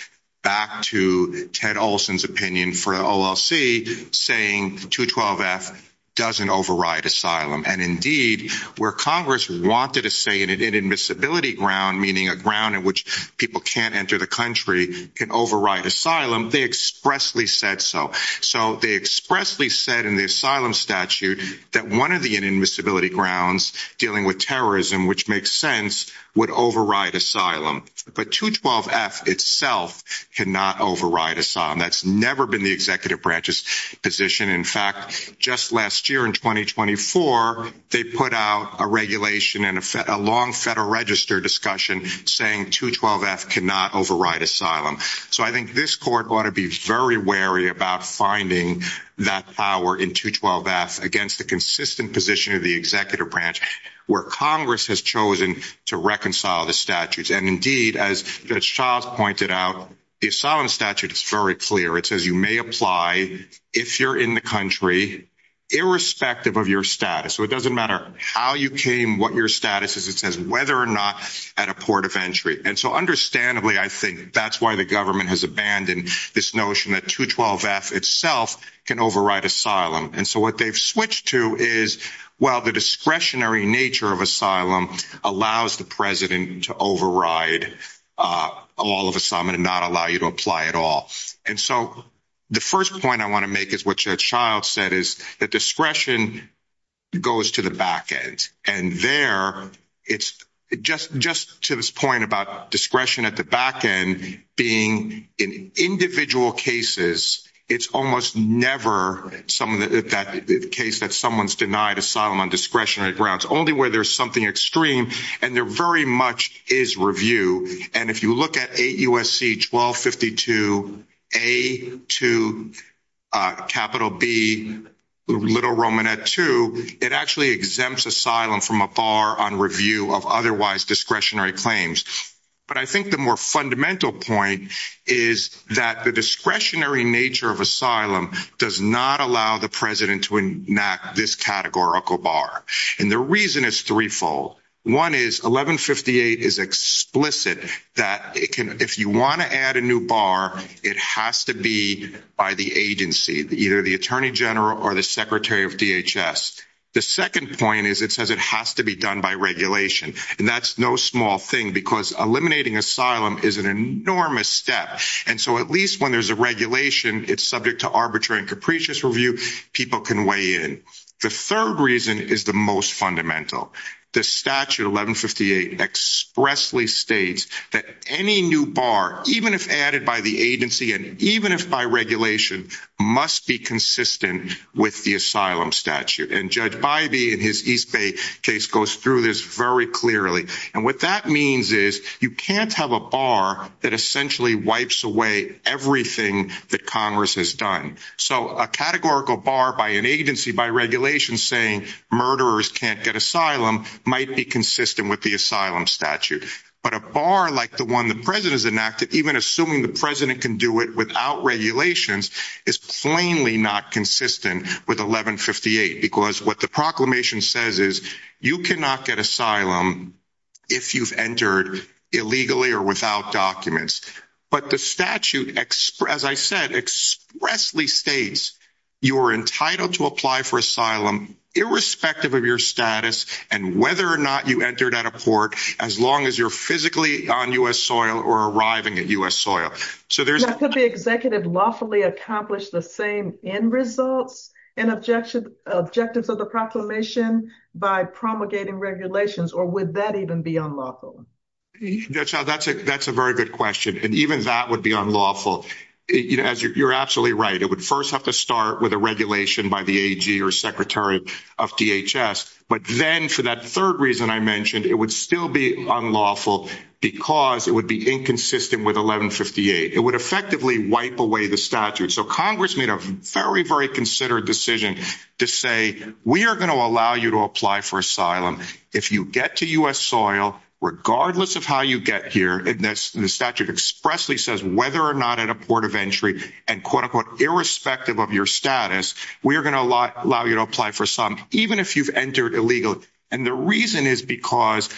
back to Ted Olson's opinion for OLC saying 212F doesn't override asylum. And indeed where Congress wanted to say in an admissibility ground, meaning a ground in which people can't enter the country can override asylum, they expressly said so. So they expressly said in the asylum statute that one of the admissibility grounds dealing with terrorism, which makes sense would override asylum, but 212F itself cannot override asylum. That's never been the executive branch's position. In fact, just last year in 2024, they put out a regulation and a long federal register discussion saying 212F cannot override asylum. So I think this court ought to be very wary about finding that power in 212F against the consistent position of the executive branch where Congress has chosen to reconcile the statutes. And indeed, as Charles pointed out, the asylum statute is very clear. It says you may apply if you're in the country, irrespective of your status. So it doesn't matter how you came, what your status is. It says whether or not at a port of entry. And so understandably, I think that's why the government has abandoned this notion that 212F itself can override asylum. And so what they've switched to is, well, the discretionary nature of asylum allows the president to override all of asylum and not allow you to apply at all. And so the first point I want to there, it's just to this point about discretion at the back end being in individual cases, it's almost never that case that someone's denied asylum on discretionary grounds, only where there's something extreme and there very much is review. And if you look at 8 U.S.C. 1252A2B2, it actually exempts asylum from a bar on review of otherwise discretionary claims. But I think the more fundamental point is that the discretionary nature of asylum does not allow the president to enact this categorical bar. And the reason is threefold. One is 1158 is explicit that if you want to add a new bar, it has to be by the agency, either the attorney general or the secretary of DHS. The second point is it says it has to be done by regulation. And that's no small thing because eliminating asylum is an enormous step. And so at least when there's a regulation, it's subject to arbitrary and capricious review, people can weigh in. The third reason is the most fundamental. The statute 1158 expressly states that any new bar, even if added by the agency and even if by regulation, must be consistent with the asylum statute. And Judge Bybee in his East Bay case goes through this very clearly. And what that means is you can't have a bar that essentially wipes away everything that Congress has done. So a categorical bar by an agency by regulation saying murderers can't get asylum might be consistent with the asylum statute. But a bar like the one the president has enacted, even assuming the president can do it without regulations, is plainly not consistent with 1158 because what the proclamation says is you cannot get asylum if you've entered illegally or without documents. But the statute, as I said, expressly states you are entitled to apply for asylum irrespective of your status and whether or not you entered at a port as long as you're physically on U.S. soil or arriving at U.S. soil. So there's- Could the executive lawfully accomplish the same end results and objectives of the proclamation by promulgating regulations or would that even be unlawful? That's a very good question. And even that would be unlawful. You're absolutely right. It would first have to start with a regulation by the AG or secretary of DHS. But then for that third reason I mentioned, it would still be unlawful because it would be inconsistent with 1158. It would effectively wipe away the statute. So Congress made a very, very considered decision to say, we are going to allow you to apply for asylum if you get to U.S. soil regardless of how you get here. And the statute expressly says whether or not at a port of entry and quote-unquote irrespective of your status, we are going to allow you to apply for asylum even if you've entered illegally. And the reason is because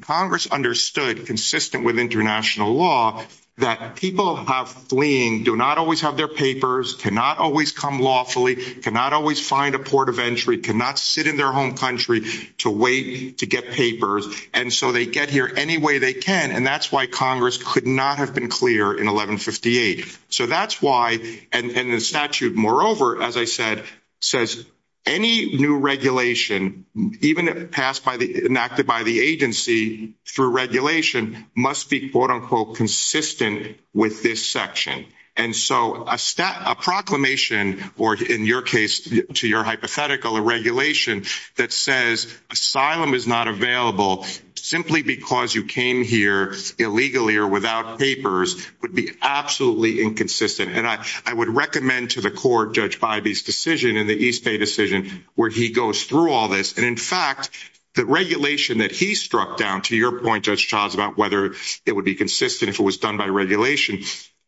Congress understood, consistent with international law, that people fleeing do not always have their papers, cannot always come lawfully, cannot always find a port of entry, cannot sit in their home country to wait to get papers. And so they get here any way they can. And that's why Congress could not have been clear in 1158. So that's why, and the statute moreover, as I said, says any new regulation, even passed by the, enacted by the agency through regulation, must be quote-unquote consistent with this section. And so a proclamation, or in your case, to your hypothetical, a regulation that says asylum is not available simply because you came here illegally or without papers would be absolutely inconsistent. And I would recommend to the court, Judge Bybee's decision in the East Bay decision, where he goes through all this. And in fact, the regulation that he struck down, to your point, Judge Childs, about whether it would be consistent if it was done by regulation,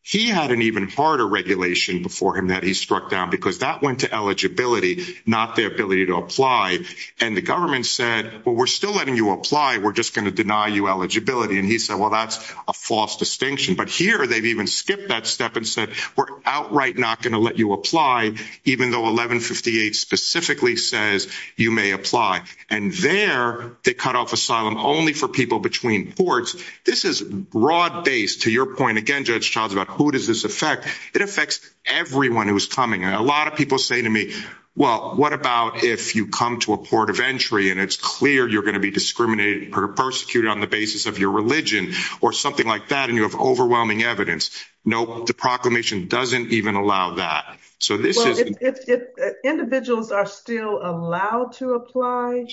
he had an even harder regulation before him that he struck down because that went to eligibility, not the ability to apply. And the government said, well, we're still letting you apply. We're just going to deny you eligibility. And he said, well, that's a false distinction. But here, they've even skipped that step and said, we're outright not going to let you apply, even though 1158 specifically says you may apply. And there, they cut off asylum only for people between ports. This is broad-based, to your point again, Judge Childs, about who does this affect. It affects everyone who's coming. And a lot of people say to me, well, what about if you come to a port of entry, and it's clear you're going to be discriminated or persecuted on the basis of your religion or something like that, and you have overwhelming evidence. Nope, the proclamation doesn't even allow that. So this is- Well, if individuals are still allowed to apply,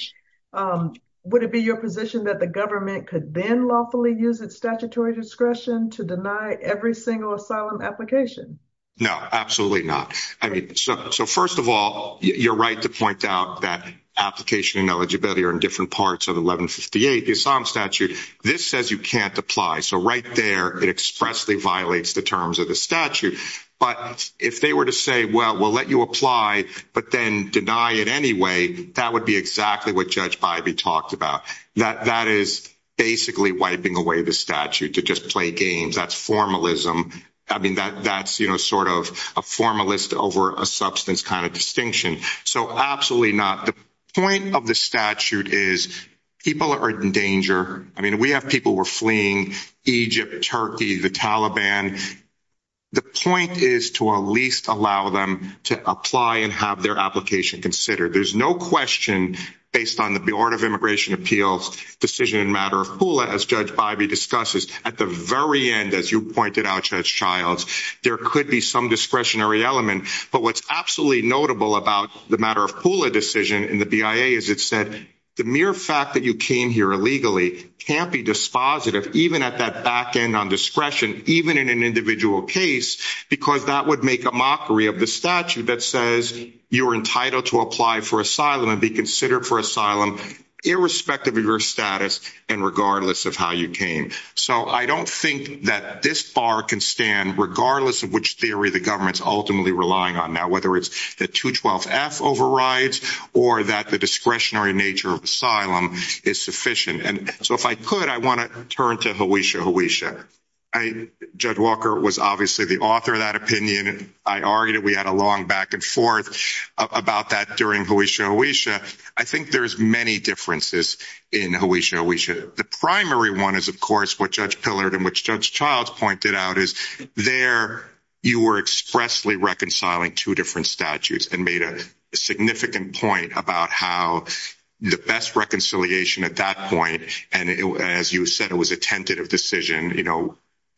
would it be your position that the government could then lawfully use its statutory discretion to deny every single asylum application? No, absolutely not. I mean, so first of all, you're right to point out that application and eligibility are in different parts of 1158, the asylum statute. This says you can't apply. So right there, it expressly violates the terms of the statute. But if they were to say, well, we'll let you apply, but then deny it anyway, that would be exactly what Judge Bybee talked about. That is basically wiping away the statute to just play games. That's formalism. I mean, that's sort of a formalist over a substance kind of distinction. So absolutely not. The point of the statute is people are in danger. I mean, we have people who are fleeing Egypt, Turkey, the Taliban. The point is to at least allow them to apply and have their application considered. There's no question based on the Board of Immigration Appeals decision in matter of HULA as Judge Bybee discusses. At the very end, as you pointed out, Judge Childs, there could be some discretionary element. But what's absolutely notable about the matter of HULA decision in the BIA is it said the mere fact that you came here illegally can't be dispositive even at that back end on discretion, even in an individual case, because that would make a mockery of the statute that says you're entitled to apply for asylum and be considered for asylum irrespective of your status and regardless of how you came. So I don't think that this bar can stand regardless of which theory the government's ultimately relying on now, whether it's that 212F overrides or that the discretionary nature of asylum is sufficient. And so if I could, I want to turn to Hawisha. I, Judge Walker was obviously the author of that opinion. I argued we had a long back and forth about that during Hawisha Hawisha. I think there's many differences in Hawisha Hawisha. The primary one is, of course, what Judge Pillard and which Judge Childs pointed out is there you were expressly reconciling two different statutes and made a significant point about how the best reconciliation at that point. And as you said, it was a tentative decision.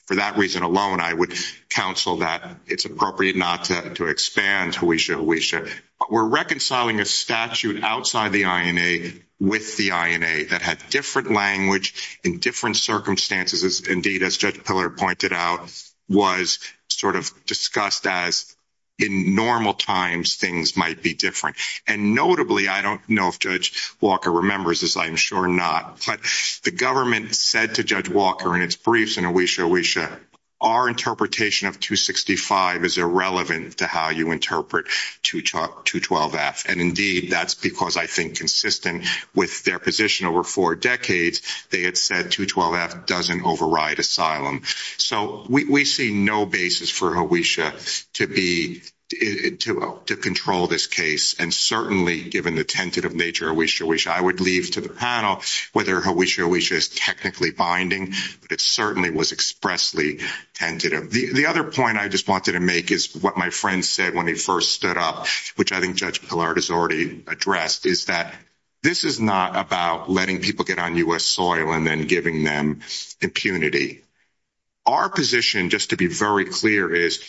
For that reason alone, I would counsel that it's appropriate not to expand Hawisha Hawisha. We're reconciling a statute outside the INA with the INA that had different language in different circumstances. Indeed, as Judge Pillard pointed out, was sort of discussed as in normal times, things might be different. And notably, I don't know if Judge Walker remembers this. I'm sure not. But the government said to Judge Walker in its briefs in Hawisha Hawisha, our interpretation of 265 is irrelevant to how you interpret 212F. And indeed, that's because I think consistent with their position over four decades, they had said 212F doesn't override asylum. So we see no basis for Hawisha to control this case. And certainly given the tentative nature of Hawisha Hawisha, I would leave to the panel whether Hawisha Hawisha is technically binding. It certainly was expressly tentative. The other point I just wanted to make is what my friend said when he first stood up, which I think Judge Pillard has already addressed, is that this is not about letting people get on U.S. soil and then giving them impunity. Our position, just to be very clear, is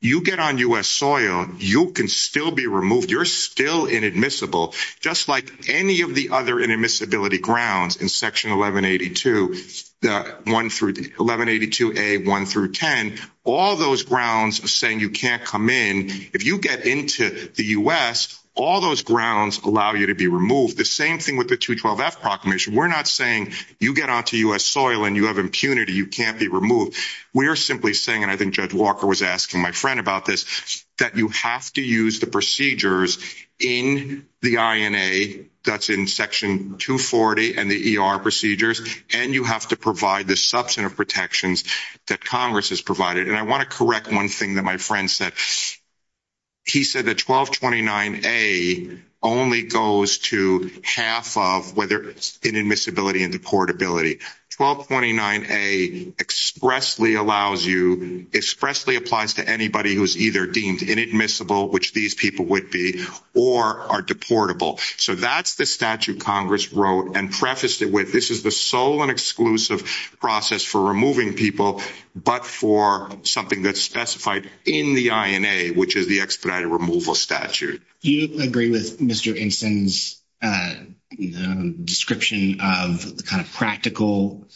you get on U.S. soil, you can still be removed. You're still inadmissible. Just like any of the other inadmissibility grounds in Section 1182, the 1182A, 1 through 10, all those grounds are saying you can't come in. If you get into the U.S., all those grounds allow you to be removed. The same thing with the 212F proclamation. We're not saying you get onto U.S. soil and you have impunity, you can't be removed. We're simply saying, and I think Judge Walker was asking my friend about this, that you have to use the procedures in the INA that's in Section 240 and the ER procedures, and you have to provide the substantive protections that Congress has provided. And I want to correct one thing that my friend said. He said that 1229A only goes to half of whether it's inadmissibility and deportability. 1229A expressly allows you, expressly applies to anybody who's either deemed inadmissible, which these people would be, or are deportable. So that's the statute Congress wrote and prefaced it with. This is the sole and process for removing people, but for something that's specified in the INA, which is the expedited removal statute. Do you agree with Mr. Einstein's description of the kind of practical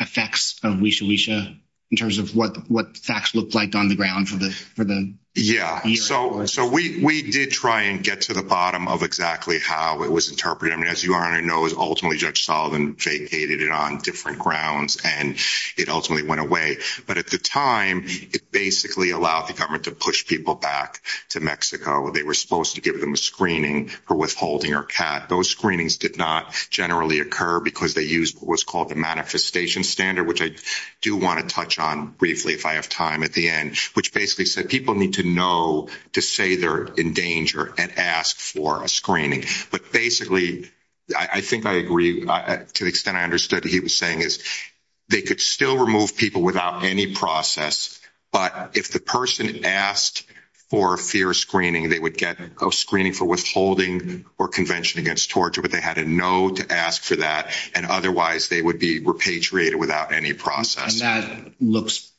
effects of leisure leisure in terms of what facts looked like on the ground for them? Yeah. So we did try and get to the bottom of exactly how it was interpreted. I mean, as you already know, it was ultimately Judge Sullivan vacated it on different grounds and it ultimately went away. But at the time, it basically allowed the government to push people back to Mexico. They were supposed to give them a screening for withholding or CAT. Those screenings did not generally occur because they used what was called the manifestation standard, which I do want to touch on briefly if I have time at the end, which basically said people need to know to say they're in danger and ask for a screening. But basically, I think I agree to the extent I understood what he was saying is they could still remove people without any process, but if the person asked for a fear screening, they would get a screening for withholding or convention against torture, but they had to know to ask for that. And otherwise they would be repatriated without any process. And that looks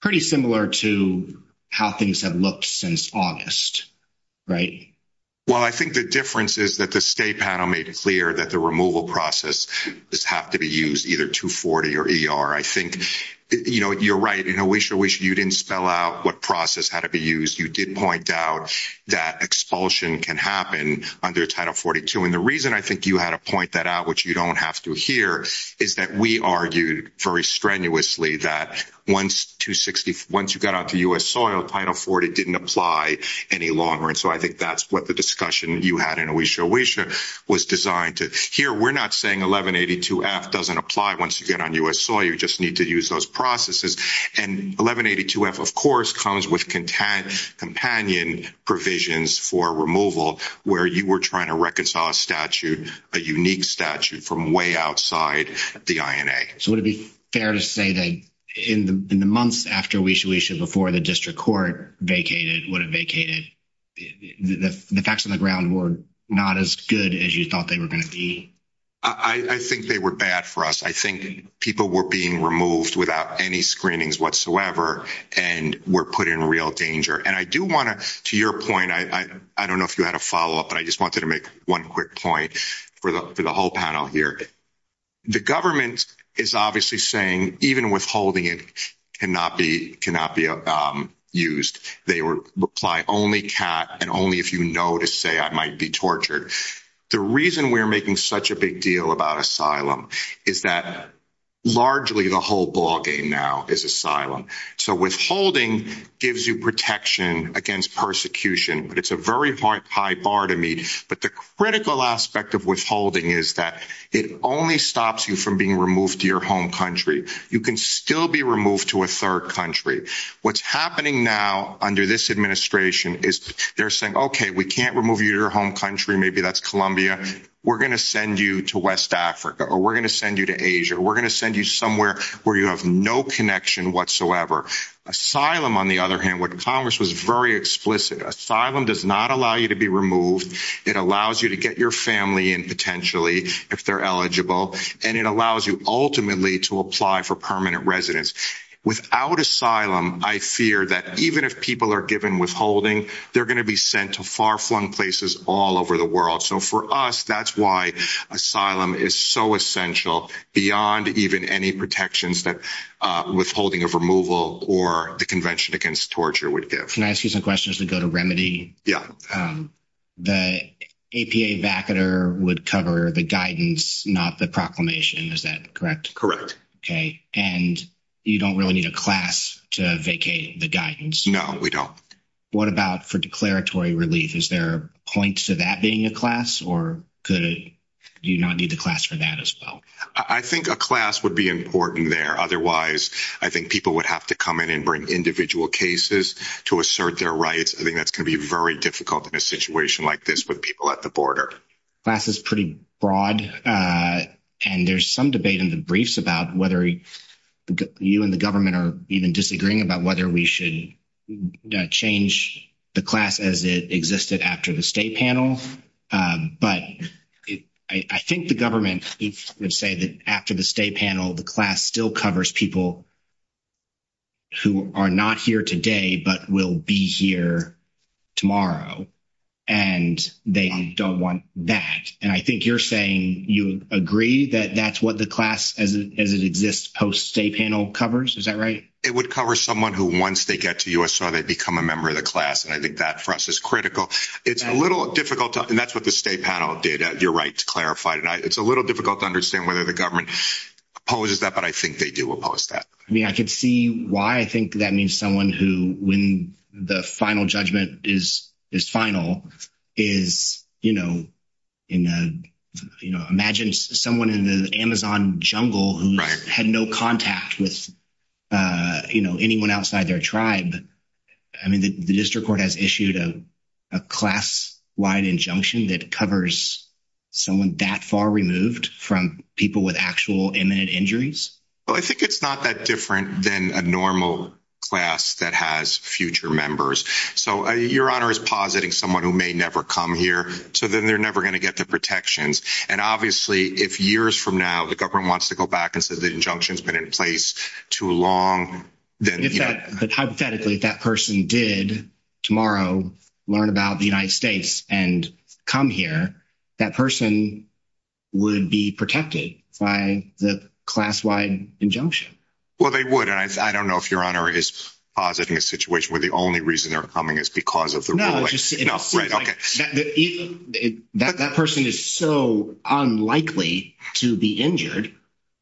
pretty similar to how things have looked since August, right? Well, I think the difference is that the state panel made it clear that the removal process does have to be used either 240 or ER. I think, you know, you're right. You know, Oisha, Oisha, you didn't spell out what process had to be used. You did point out that expulsion can happen under Title 42. And the reason I think you had to point that out, which you don't have to hear, is that we argued very strenuously that once 260, once you got out to U.S. soil, Title 40 didn't apply any longer. And so I think that's what the discussion you had in Oisha, Oisha was designed to hear. We're not saying 1182F doesn't apply once you get on U.S. soil. You just need to use those processes. And 1182F, of course, comes with companion provisions for removal where you were trying to reconcile a statute, a unique statute, from way outside the INA. So would it be fair to say that in the months after Oisha, Oisha, before the district court vacated, would have vacated, the facts on the ground were not as good as you thought they were going to be? I think they were bad for us. I think people were being removed without any screenings whatsoever and were put in real danger. And I do want to, to your point, I don't know if you had a follow-up, but I just wanted to make one quick point for the whole panel here. The government is obviously saying even withholding it cannot be used. They reply only cap and only if you know to say I might be tortured. The reason we're making such a big deal about asylum is that largely the whole ball game now is asylum. So withholding gives you protection against persecution, but it's a very high bar to me. But the critical aspect of withholding is that it only stops you from being removed to your home country. You can still be removed to a third country. What's happening now under this administration is they're saying, okay, we can't remove you to your home country. Maybe that's Columbia. We're going to send you to West Africa, or we're going to send you to Asia. We're going to send you somewhere where you have no connection whatsoever. Asylum on the other hand, what the Congress was very explicit, asylum does not allow you to be removed. It allows you to get your family and potentially if they're eligible and it allows you ultimately to apply for permanent residence. Without asylum, I fear that even if people are given withholding, they're going to be sent to far-flung places all over the world. So for us, that's why asylum is so essential beyond even any protections that withholding of removal or the Convention Against Torture would give. Can I ask you some questions to go to remedy? Yeah. The APA backer would cover the guidance, not the proclamation. Is that correct? Correct. Okay. And you don't really need a class to vacate the guidance? No, we don't. What about for declaratory relief? Is there a point to that being a class or could you not need the class for that as well? I think a class would be important there. Otherwise, I think people would have to come in and bring individual cases to assert their rights. I think that's going to be very difficult in a situation like this with people at border. Class is pretty broad and there's some debate in the briefs about whether you and the government are even disagreeing about whether we should change the class as it existed after the state panels. But I think the government would say that after the state panel, the class still covers people who are not here today but will be here tomorrow. And they don't want that. And I think you're saying you agree that that's what the class as it exists post state panel coverage. Is that right? It would cover someone who once they get to U.S. so they become a member of the class. And I think that for us is critical. It's a little difficult and that's what the state panel data. You're right to clarify tonight. It's a little difficult to understand whether the government opposes that. But I think they do oppose that. I mean, I could see why I think that means someone who when the final judgment is final is, you know, imagine someone in an Amazon jungle who had no contact with anyone outside their tribe. I mean, the district court has issued a class wide injunction that covers someone that far removed from people with actual imminent injuries. Well, I think it's not that different than a normal class that has future members. So your honor is positing someone who may never come here. So then they're never going to get the protections. And obviously, if years from now, the government wants to go back and say the injunction has been in place too long. If that person did tomorrow, learn about the United States and come here, that person would be protected by the class wide injunction. Well, they would. And I don't know if your honor is positing a situation where the only reason they're coming is because of the. That person is so unlikely to be injured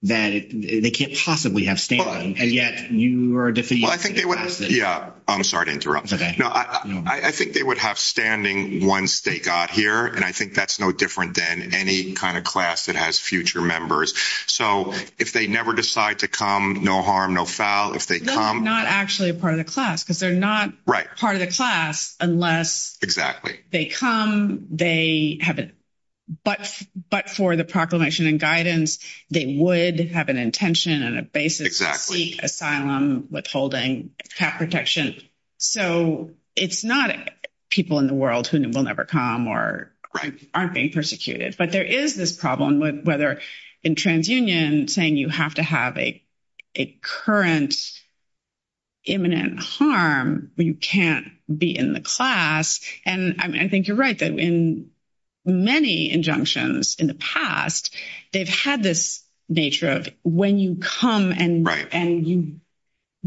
that they can't possibly have standing. And yet I think they would. Yeah, I'm sorry to interrupt. I think they would have standing once they got here. And I think that's no different than any kind of class that has future members. So if they never decide to come, no harm, no foul. If they come. They're not actually part of the class because they're not part of the class unless. They come, they have it. But for the proclamation and guidance, they would have an intention and a basic asylum withholding protection. So it's not people in the world who will never come or aren't being persecuted. But there is this problem with whether in TransUnion saying you have to have a current. Imminent harm, you can't be in the class. And I think you're right that in many injunctions in the past, they've had this nature of when you come and you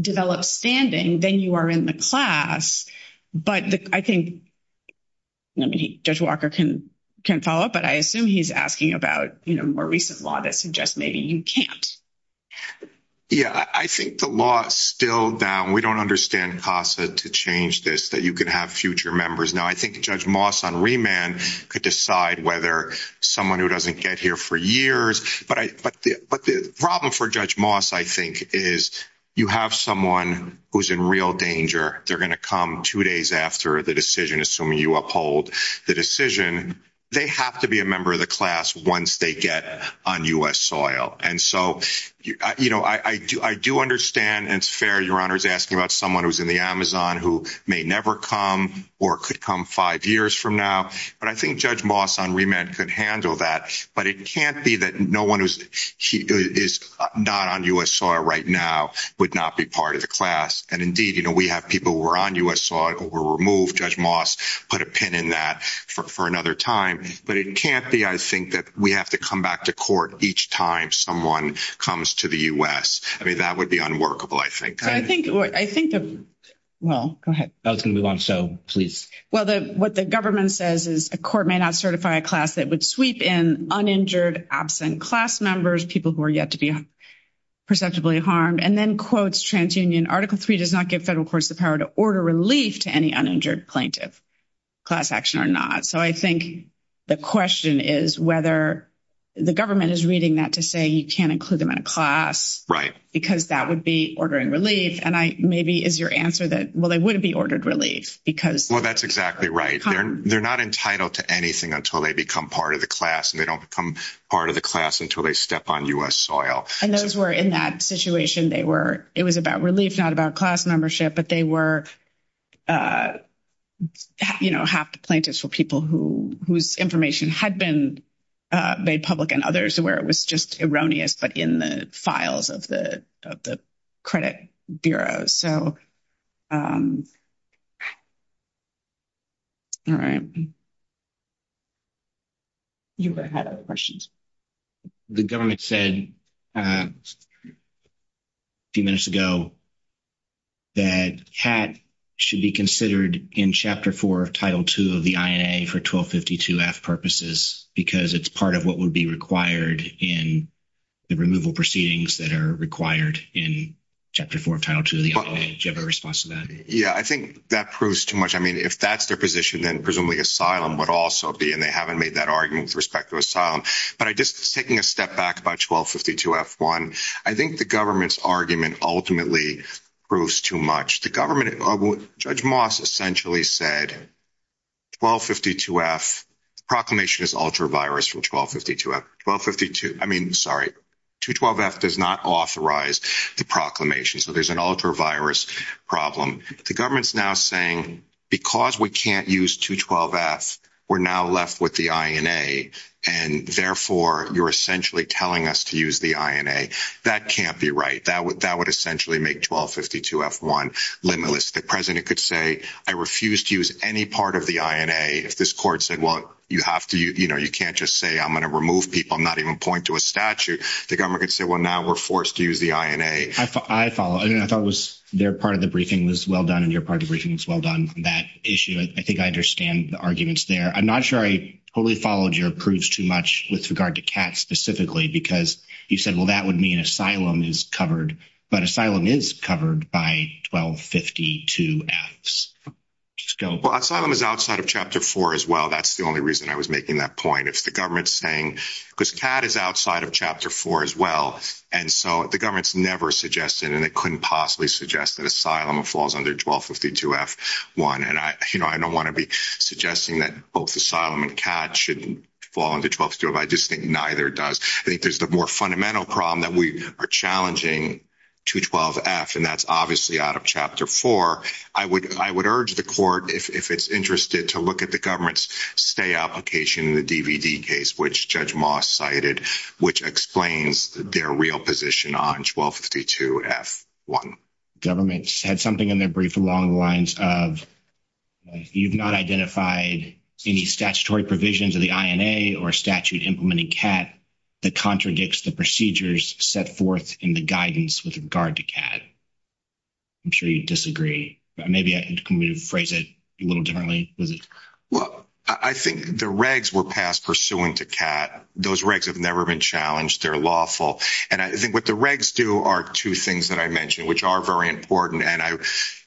develop standing, then you are in the class. But I think Judge Walker can follow up, but I assume he's asking about, you know, more recent law that suggests maybe you can't. Yeah, I think the law is still down. We don't understand costs to change this, that you can have future members. Now, I think Judge Moss on remand could decide whether someone who doesn't get here for years. But the problem for Judge Moss, I think, is you have someone who's in real danger. They're going to come two days after the decision, assuming you uphold the decision. They have to be a member of the class once they get on U.S. soil. And so, you know, I do understand and it's fair, Your Honor, is asking about someone who's in the Amazon who may never come or could come five years from now. But I think Judge Moss on remand could handle that. But it can't be that no one who is not on U.S. soil right now would not be part of the class. And indeed, you know, we have people who are on U.S. soil who were removed. Judge Moss put a pin in that for another time. But it can't be, I think, that we have to come to court each time someone comes to the U.S. I mean, that would be unworkable, I think. I think, well, go ahead. I was going to move on. So, please. Well, what the government says is a court may not certify a class that would sweep in uninjured, absent class members, people who are yet to be perceptibly harmed. And then quotes TransUnion, Article 3 does not give federal courts the power to order relief to any uninjured plaintiff, class action or not. So, I think the question is whether the government is reading that to say you can't include them in a class. Right. Because that would be ordering relief. And maybe is your answer that, well, they wouldn't be ordered relief because. Well, that's exactly right. They're not entitled to anything until they become part of the class. And they don't become part of the class until they step on U.S. soil. And those were in that situation, they were, it was about relief, not about class membership, but they were, you know, half the plaintiffs were people whose information had been made public and others where it was just erroneous, but in the files of the credit bureaus. So. You had other questions. The government said a few minutes ago that HAT should be considered in Chapter 4, Title 2 of the IAA for 1252F purposes, because it's part of what would be required in the removal proceedings that are required in Chapter 4, Title 2 of the IAA. Do you have a response to that? Yeah, I think that proves too much. I mean, if that's their position, then presumably asylum would also be, and they haven't made that argument with respect to asylum. But I just, taking a step back about 1252F1, I think the government's argument ultimately proves too much. The government, Judge Moss essentially said 1252F, proclamation is ultra-virus from 1252F. 1252, I mean, sorry, 212F does not authorize the proclamation. So there's an ultra-virus problem. The government's now saying, because we can't use 212F, we're now left with the INA, and therefore you're essentially telling us to use the INA. That can't be right. That would essentially make 1252F1 limitless. The president could say, I refuse to use any part of the INA. If this court said, well, you have to, you know, you can't just say, I'm going to remove people, I'm not even pointing to a statute. The government could say, well, now we're forced to use the INA. I follow. I thought their part of the briefing was well done and your part of the briefing was well done on that issue. I think I understand the arguments there. I'm not sure I fully followed your approach too much with regard to CAT specifically, because you said, well, that would mean asylum is covered, but asylum is covered by 1252F. Well, asylum is outside of chapter four as well. That's the only reason I was making that point. It's the government saying, because CAT is outside of chapter four as well. And so the government's never suggested, and it couldn't possibly suggest that asylum falls under 1252F1. And I don't want to be suggesting that both asylum and CAT shouldn't fall into 1252F1. I just think neither does. I think there's the more fundamental problem that we are challenging 212F, and that's obviously out of chapter four. I would urge the court, if it's interested to look at the government's application in the DVD case, which Judge Moss cited, which explains their real position on 1252F1. The government said something in their brief along the lines of, you've not identified any statutory provisions of the INA or statute implementing CAT that contradicts the procedures set forth in the guidance with regard to CAT. I'm sure you disagree. Maybe you can rephrase it a little differently. Well, I think the regs were passed pursuant to CAT. Those regs have never been challenged. They're lawful. And I think what the regs do are two things that I mentioned, which are very important. And I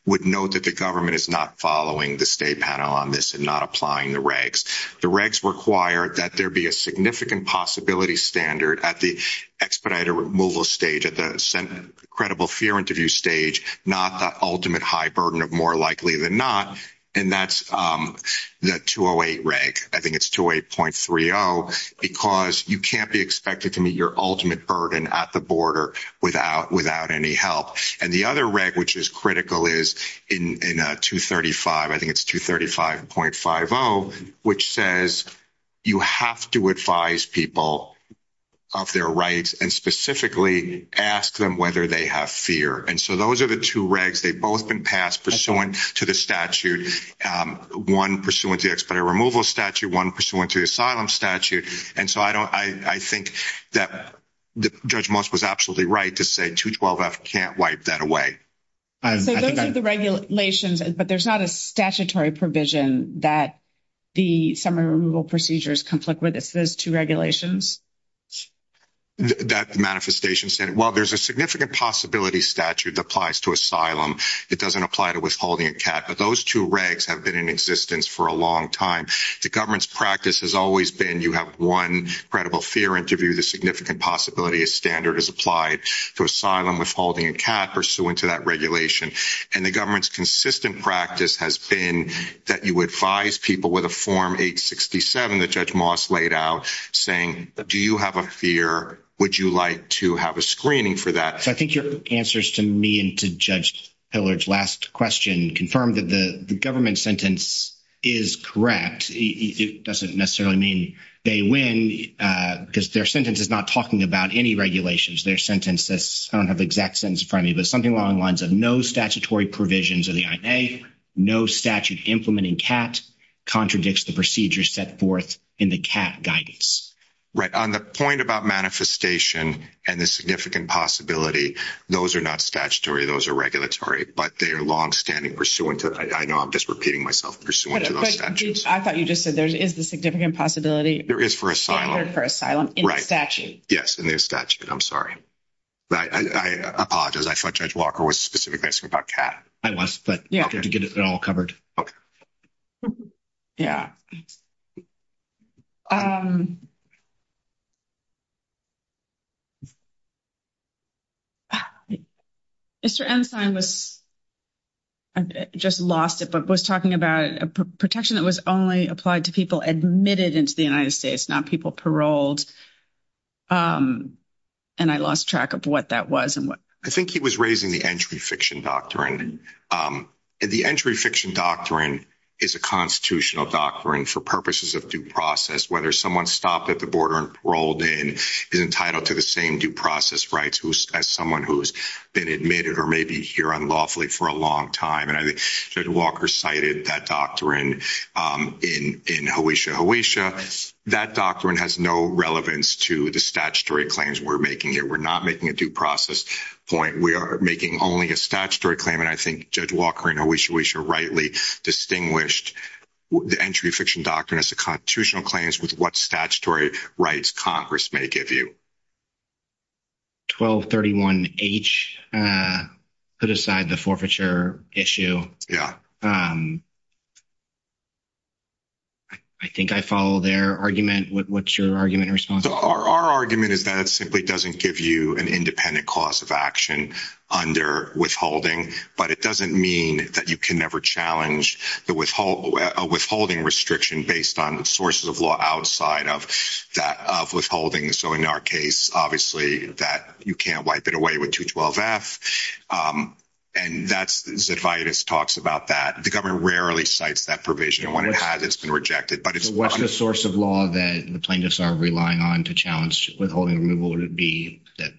would note that the government is not following the state panel on this and not applying the regs. The regs require that there be a significant possibility standard at the removal stage, at the credible fear interview stage, not the ultimate high burden of more likely than not. And that's the 208 reg. I think it's 208.30, because you can't be expected to meet your ultimate burden at the border without any help. And the other reg, which is critical, is in 235. I think it's 235.50, which says you have to advise people of their rights and specifically ask them whether they have fear. And so those are the two regs. They've both been passed pursuant to the statute, one pursuant to the expiry removal statute, one pursuant to the asylum statute. And so I think that Judge Most was absolutely right to say 212F can't wipe that away. So those are the regulations, but there's not a statutory provision that the summary removal procedures conflict with if there's two regulations? That manifestation said, well, there's a significant possibility statute that applies to asylum. It doesn't apply to withholding a cat. But those two regs have been in existence for a long time. The government's practice has always been you have one credible fear interview, the significant possibility a standard is applied to asylum withholding a cat pursuant to that regulation. And the government's consistent practice has been that you advise people with a form 867 that Judge Most laid out saying, do you have a fear? Would you like to have a screening for that? So I think your answers to me and to Judge Pillard's last question confirmed that the government sentence is correct. It doesn't necessarily mean they win because their sentence is not talking about any regulations. Their sentence, I don't have the exact sentence probably, but something along the lines of no statutory provisions of the IA, no statute implementing cat contradicts the procedure set forth in the cat guidance. Right. On the point about manifestation and the significant possibility, those are not statutory. Those are regulatory, but they are longstanding pursuant to, I know I'm just repeating myself, pursuant to those statutes. But I thought you just said there is a significant possibility. There is for asylum. For asylum in the statute. Yes, in the statute. I'm sorry. I apologize. I thought Judge Walker was specifically asking about cat. I was, but you have to get it all covered. Okay. Yeah. Mr. Ensign was, I just lost it, but was talking about protection that was only applied to people admitted into the United States, not people paroled. And I lost track of what that was. I think he was raising the entry fiction doctrine. The entry fiction doctrine is a constitutional doctrine for purposes of due process. Whether someone stopped at the border and paroled in is entitled to the same due process rights as someone who's been admitted or maybe here lawfully for a long time. And I think Judge Walker cited that doctrine in Hoatia. That doctrine has no relevance to the statutory claims we're making here. We're not making a due process point. We are making only a statutory claim. And I think Judge Walker and Hoatia rightly distinguished the entry fiction doctrine as a constitutional claims with what statutory rights Congress may give you. 1231H put aside the forfeiture issue. Yeah. I think I follow their argument. What's your argument response? Our argument is that it simply doesn't give you an independent cause of action under withholding, but it doesn't mean that you can never challenge the withholding restriction based on the sources of law outside that of withholding. So in our case, obviously, that you can't wipe it away with 212F. And that's the fight is talks about that. The government rarely cites that provision when it has been rejected. But it's what's the source of law that plaintiffs are relying on to challenge withholding? Would it be that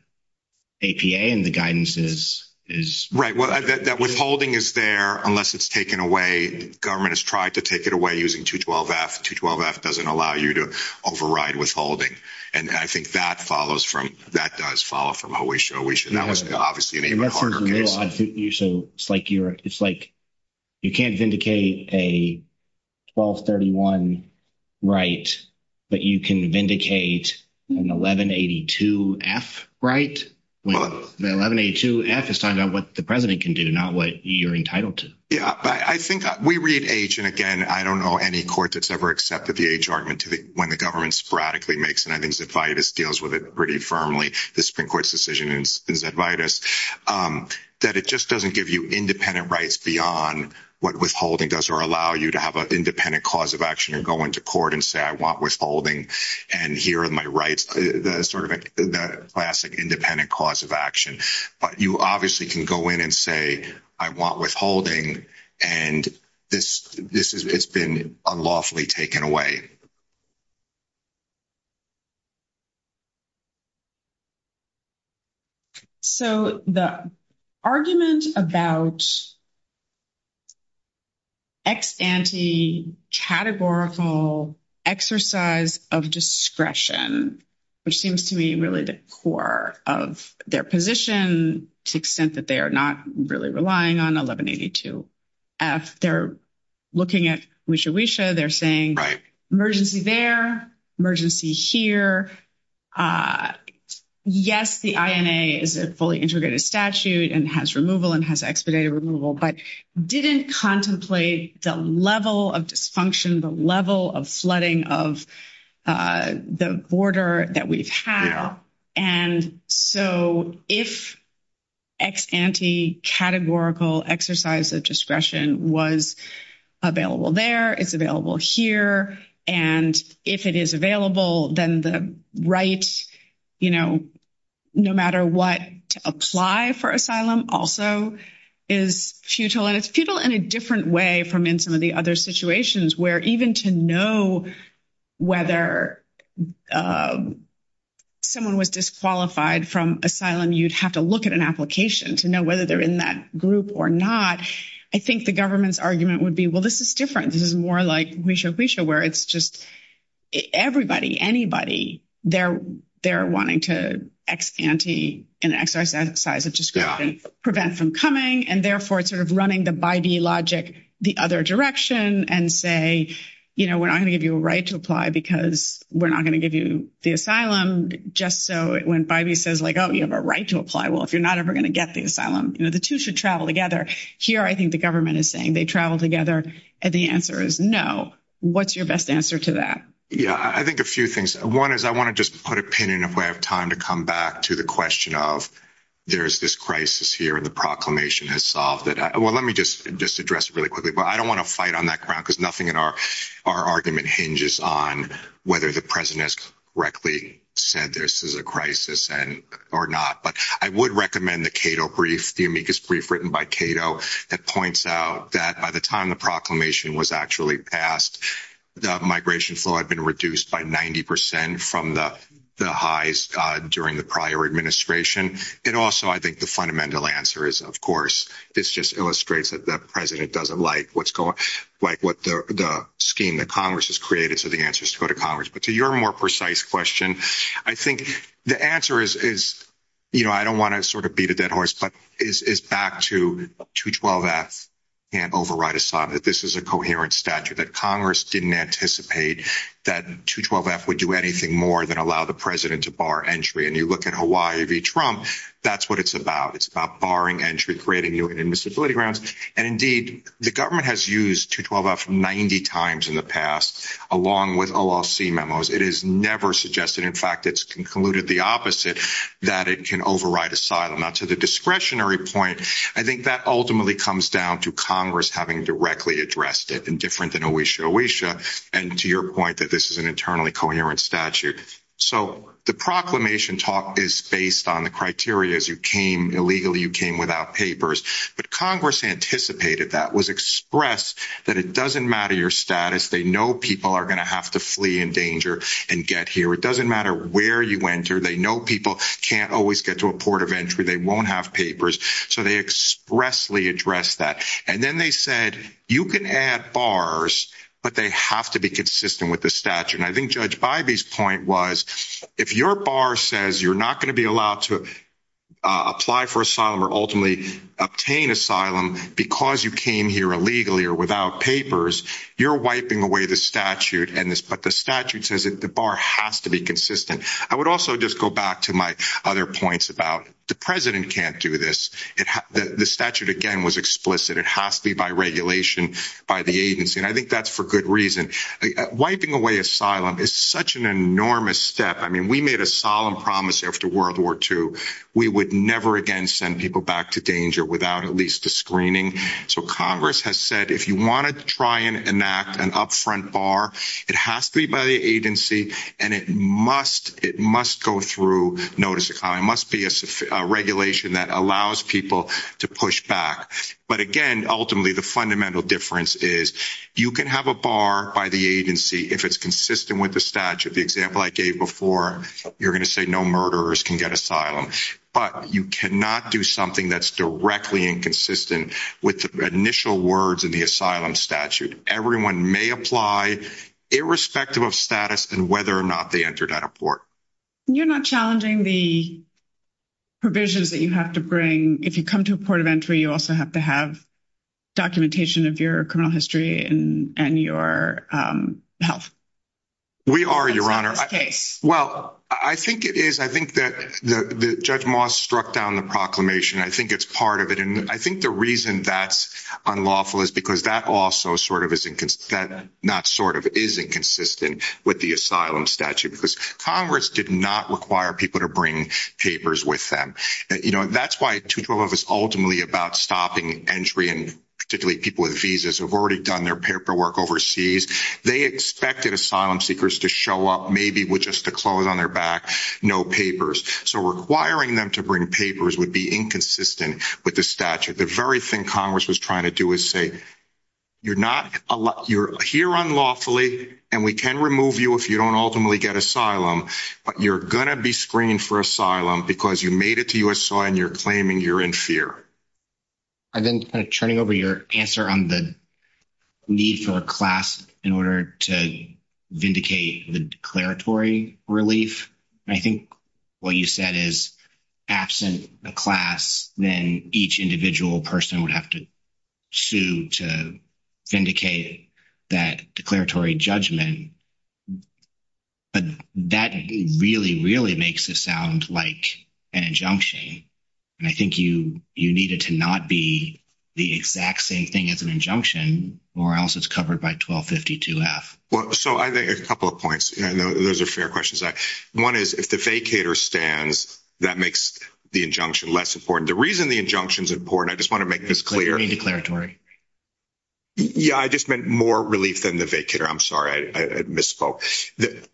APA and the guidance is is right? Well, that withholding is there unless it's taken away. Government has tried to take it away using 212F. 212F doesn't allow you to override withholding. And I think that follows from that does follow from how we show we should obviously. It's like you're it's like you can't vindicate a 1231 right that you can vindicate an 1182F right. 1182F is not what the president can do, not what you're entitled to. Yeah, I think we read H and again, I don't know any court that's ever accepted the H argument when the government sporadically makes and I think Zadvidas deals with it pretty firmly. The Supreme Court's decision in Zadvidas that it just doesn't give you independent rights beyond what withholding does or allow you to have an independent cause of action and go into court and say, I want withholding. And here are my rights, the sort of the classic independent cause of action. But you obviously can go in and say, I want withholding. And this this is it's been unlawfully taken away. So the argument about ex ante categorical exercise of discretion, which seems to me really the core of their position to the extent that they are not really relying on 1182F, they're looking at Wisha Wisha, they're saying emergency there, emergency here. Yes, the INA is a fully integrated statute and has removal and has expedited removal, but didn't contemplate the level of dysfunction, the level of flooding of the border that we have. And so if ex ante categorical exercise of discretion was available there, it's available here. And if it is available, then the right, you know, no matter what, apply for asylum also is futilized people in a different way from in the other situations where even to know whether someone was disqualified from asylum, you'd have to look at an application to know whether they're in that group or not. I think the government's argument would be, well, this is different. This is more like Wisha Wisha, where it's just everybody, anybody there, they're wanting to ex ante and exercise of discretion, prevent from coming and therefore sort of running the by the logic, the other direction and say, you know, we're not going to give you a right to apply because we're not going to give you the asylum just so it went by me says like, oh, you have a right to apply. Well, if you're not ever going to get the asylum, you know, the two should travel together here. I think the government is saying they travel together. And the answer is no. What's your best answer to that? Yeah, I think a few things. One is I want to just put a pin in a way of time to come back to the question of there's this crisis here and the proclamation has solved it. Well, let me just just address it really quickly. But I don't want to fight on that ground because nothing in our argument hinges on whether the president has correctly said this is a crisis and or not. But I would recommend the Cato brief, the amicus brief written by Cato that points out that by the time the proclamation was actually passed, the migration flow had been reduced by 90 percent from the highs during the administration. And also, I think the fundamental answer is, of course, this just illustrates that the president doesn't like what's going on, like what the scheme that Congress has created. So the answer is to go to Congress. But to your more precise question, I think the answer is, is, you know, I don't want to sort of beat a dead horse, but is back to 212 that and override Assad, that this is a coherent statute that Congress didn't anticipate that 212F would do anything more than allow the president to bar entry. And you look at Hawaii v Trump, that's what it's about. It's about barring entry, creating new invisibility grounds. And indeed, the government has used 212F 90 times in the past, along with OLC memos. It is never suggested. In fact, it's concluded the opposite, that it can override asylum. Now, to the discretionary point, I think that ultimately comes down to Congress having directly addressed it and different ways. And to your point that this is an internally coherent statute. So the proclamation talk is based on the criteria as you came illegally, you came without papers. But Congress anticipated that was expressed that it doesn't matter your status. They know people are going to have to flee in danger and get here. It doesn't matter where you enter. They know people can't always get to a port of entry. They won't have papers. So they expressly address that. And then they said, you can add bars, but they have to be consistent with the statute. And I think Judge Bybee's point was, if your bar says you're not going to be allowed to apply for asylum or ultimately obtain asylum because you came here illegally or without papers, you're wiping away the statute. But the statute says that the bar has to be consistent. I would also just go back to my other points about the president can't do this. The statute, again, was explicit. It has to be by regulation, by the agency. And I think that's for good reason. Wiping away asylum is such an enormous step. I mean, we made a solemn promise after World War II, we would never again send people back to danger without at least a screening. So Congress has said, if you want to try and enact an upfront bar, it has to be by the agency. And it must go through notice. It must be a regulation that allows people to push back. But again, ultimately, the fundamental difference is, you can have a bar by the agency, if it's consistent with the statute. The example I gave before, you're going to say no murderers can get asylum. But you cannot do something that's directly inconsistent with the initial words in the asylum statute. Everyone may apply, irrespective of status and whether or not they entered out of court. You're not challenging the provisions that you have to bring. If you come to a port of entry, you also have to have documentation of your criminal history and your health. We are, Your Honor. Well, I think it is. I think that Judge Moss struck down the proclamation. I think it's part of it. And I think the reason that's unlawful is because that also sort of not sort of is inconsistent with the asylum statute. Because Congress did not require people to bring papers with them. That's why 212 is ultimately about stopping entry. And particularly, people with visas have already done their paperwork overseas. They expected asylum seekers to show up maybe with just the clothes on their back, no papers. So requiring them to bring papers would be inconsistent with the statute. The very thing Congress was trying to do is say, you're not, you're here unlawfully, and we can remove you if you don't ultimately get asylum. But you're going to be screened for asylum because you made it to USI and you're claiming you're in fear. And then turning over your answer on the need for a class in order to vindicate the declaratory relief. I think what you said is absent the class, then each individual person would have to sue to vindicate that declaratory judgment. But that really, really makes it sound like an injunction. And I think you needed to not be the exact same thing as an injunction, or else it's covered by 1252F. Well, so I think a couple of points, and those are fair questions. One is if the vacator stands, that makes the injunction less important. The reason the injunction is important, I just want to make this clear. Any declaratory? Yeah, I just meant more relief than the vacator. I'm sorry, I misspoke.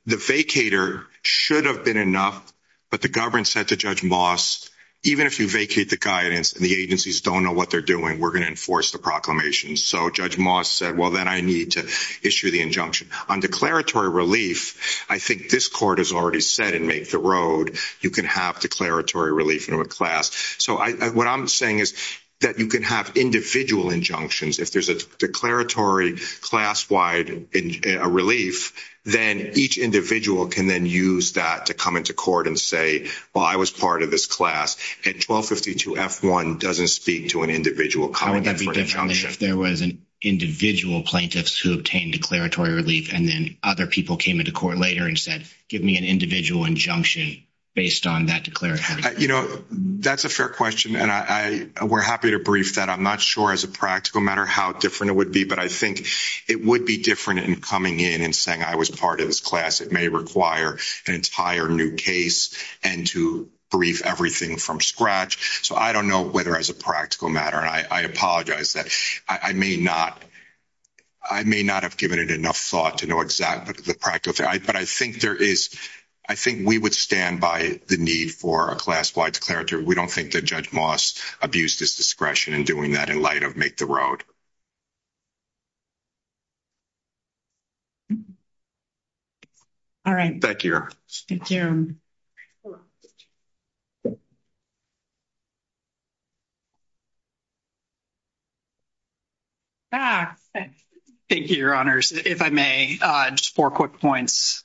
The vacator should have been enough, but the government said to Judge Moss, even if you vacate the guidance and the agencies don't know what they're doing, we're going to enforce the proclamations. So Judge Moss said, well, then I need to issue the injunction. On declaratory relief, I think this court has already said and made the road, you can have declaratory relief in a class. So what I'm saying is that you can have individual injunctions. If there's a declaratory class-wide relief, then each individual can then use that to come into court and say, well, I was part of this class. And 1252F1 doesn't speak to an individual coming in for an injunction. There was an individual plaintiff who obtained declaratory relief, and then other people came into court later and said, give me an individual injunction based on that declaratory. That's a fair question, and we're happy to brief that. I'm not sure as a practical matter how different it would be, but I think it would be different in coming in and saying, I was part of this class. It may require an entire new case and to brief everything from scratch. So I don't know whether as a practical matter, and I apologize that I may not have given it enough thought to know exactly the practical, but I think we would stand by the need for a class-wide declaratory. We don't think that Judge Moss abused his discretion in doing that in light of Make the Road. All right. Thank you, Your Honors. If I may, just four quick points.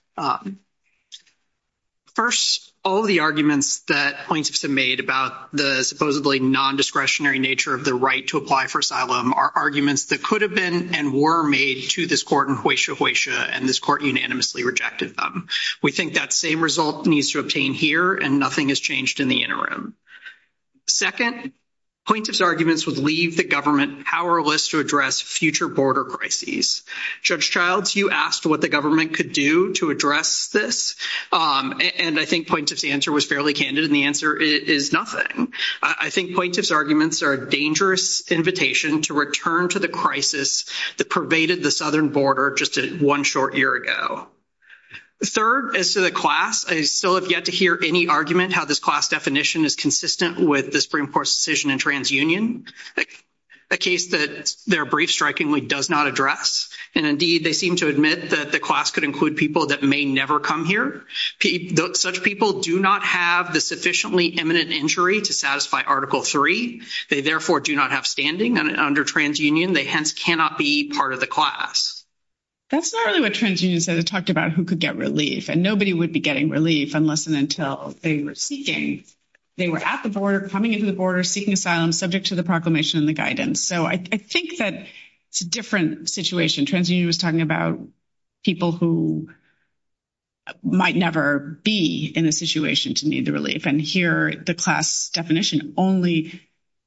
First, all the arguments that plaintiffs have made about the supposedly non-discretionary nature of the right to apply for asylum are arguments that could have been and were made to this court in Hoysia Hoysia, and this court unanimously rejected them. We think that same result needs to obtain here, and nothing has changed in the interim. Second, plaintiff's arguments would leave the government powerless to address future border crises. Judge Childs, you asked what the government could do to address this, and I think plaintiff's answer was fairly dangerous invitation to return to the crisis that pervaded the southern border just one short year ago. Third, as to the class, I still have yet to hear any argument how this class definition is consistent with the Supreme Court's decision in TransUnion, a case that their brief strikingly does not address, and indeed they seem to admit that the class could include people that may never come here. Such people do not have the sufficiently imminent injury to satisfy Article Three. They therefore do not have standing under TransUnion. They hence cannot be part of the class. That's not really what TransUnion said. It talked about who could get relief, and nobody would be getting relief unless and until they were seeking. They were at the border, coming into the border, seeking asylum subject to the proclamation and the guidance. So I think that it's a different situation. TransUnion was talking about people who might never be in a situation to need the relief, but it actually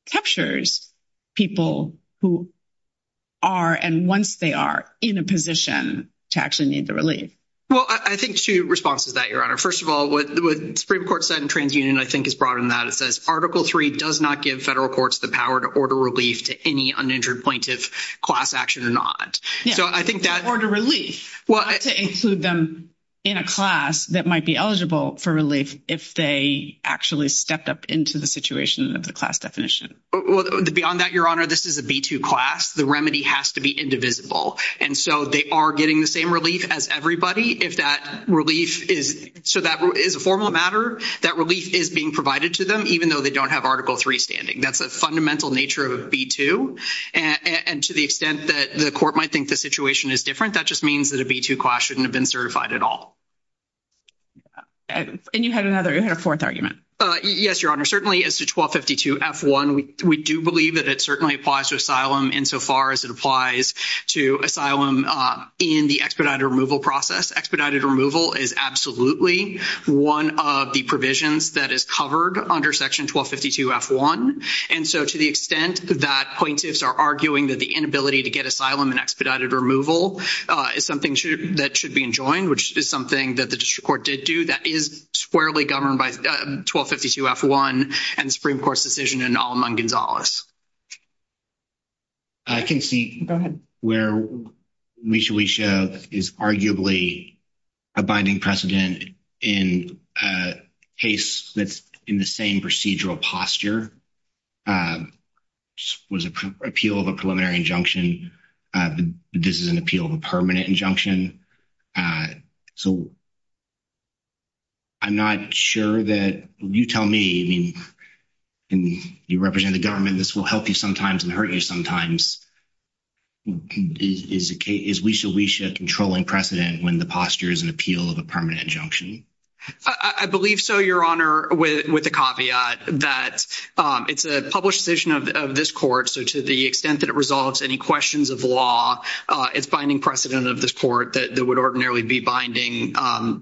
captures people who are, and once they are, in a position to actually need the relief. Well, I think two responses to that, Your Honor. First of all, what the Supreme Court said in TransUnion, I think, is broader than that. It says Article Three does not give federal courts the power to order relief to any uninjured plaintiff, class action or not. Yeah. So I think that... Order relief. Well... Not to include them in a class that might be eligible for relief if they actually stepped up into the situation of the class definition. Well, beyond that, Your Honor, this is a B-2 class. The remedy has to be indivisible. And so they are getting the same relief as everybody if that relief is... So that is a formal matter. That relief is being provided to them, even though they don't have Article Three standing. That's the fundamental nature of B-2. And to the extent that the court might think the situation is different, that just means that a B-2 class shouldn't have been certified at all. And you had another, a fourth argument. Yes, Your Honor. Certainly, as to 1252 F-1, we do believe that it certainly applies to asylum insofar as it applies to asylum in the expedited removal process. Expedited removal is absolutely one of the provisions that is covered under Section 1252 F-1. And so to the extent that plaintiffs are arguing that the inability to get asylum and expedited removal is something that should be enjoined, which is something that the district court did do, that is squarely governed by 1252 F-1 and the Supreme Court's decision and all among Gonzales. I can see where Misha Weisha is arguably a binding precedent in a case that's in the same procedural posture. It was an appeal of a preliminary injunction. This is an appeal of a preliminary injunction. So I'm not sure that you tell me, and you represent the government, this will help you sometimes and hurt you sometimes. Is Weisha Weisha controlling precedent when the posture is an appeal of a permanent injunction? I believe so, Your Honor, with the caveat that it's a published decision of this court. So to the extent that it resolves any questions of law, it's binding precedent of this court that would ordinarily be binding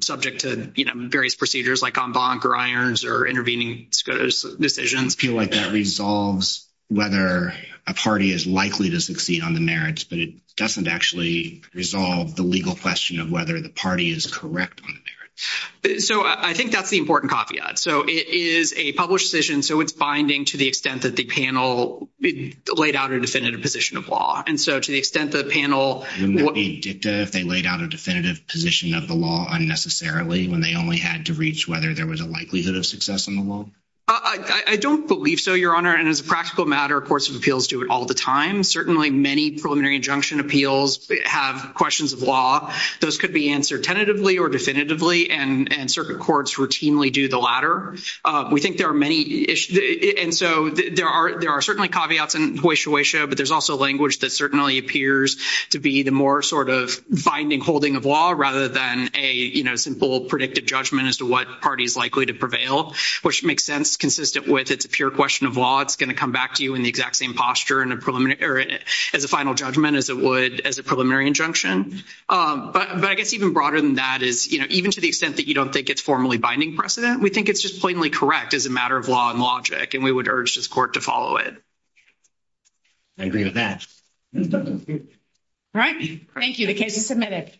subject to various procedures like en banc or irons or intervening decisions. I feel like that resolves whether a party is likely to succeed on the merits, but it doesn't actually resolve the legal question of whether the party is correct on the merits. So I think that's the important caveat. So it is a published decision, so it's binding to the extent that the panel laid out a definitive position of law. And so to the extent that the panel... And would it be dicta if they laid out a definitive position of the law unnecessarily when they only had to reach whether there was a likelihood of success in the law? I don't believe so, Your Honor. And as a practical matter, courts of appeals do it all the time. Certainly many preliminary injunction appeals have questions of law. Those could be answered tentatively or definitively, and circuit courts routinely do the latter. We think there are many issues. And so there are certainly caveats and hoysia-hoysia, but there's also language that certainly appears to be the more sort of binding holding of law rather than a simple predictive judgment as to what party is likely to prevail, which makes sense consistent with it's a pure question of law. It's going to come back to you in the exact same posture as a final judgment as it would as a preliminary injunction. But I guess even broader than that is even to the extent that you don't think it's formally binding precedent, we think it's just plainly correct as a matter of law and logic, and we would urge this court to follow it. I agree with that. All right. Thank you. The case is submitted.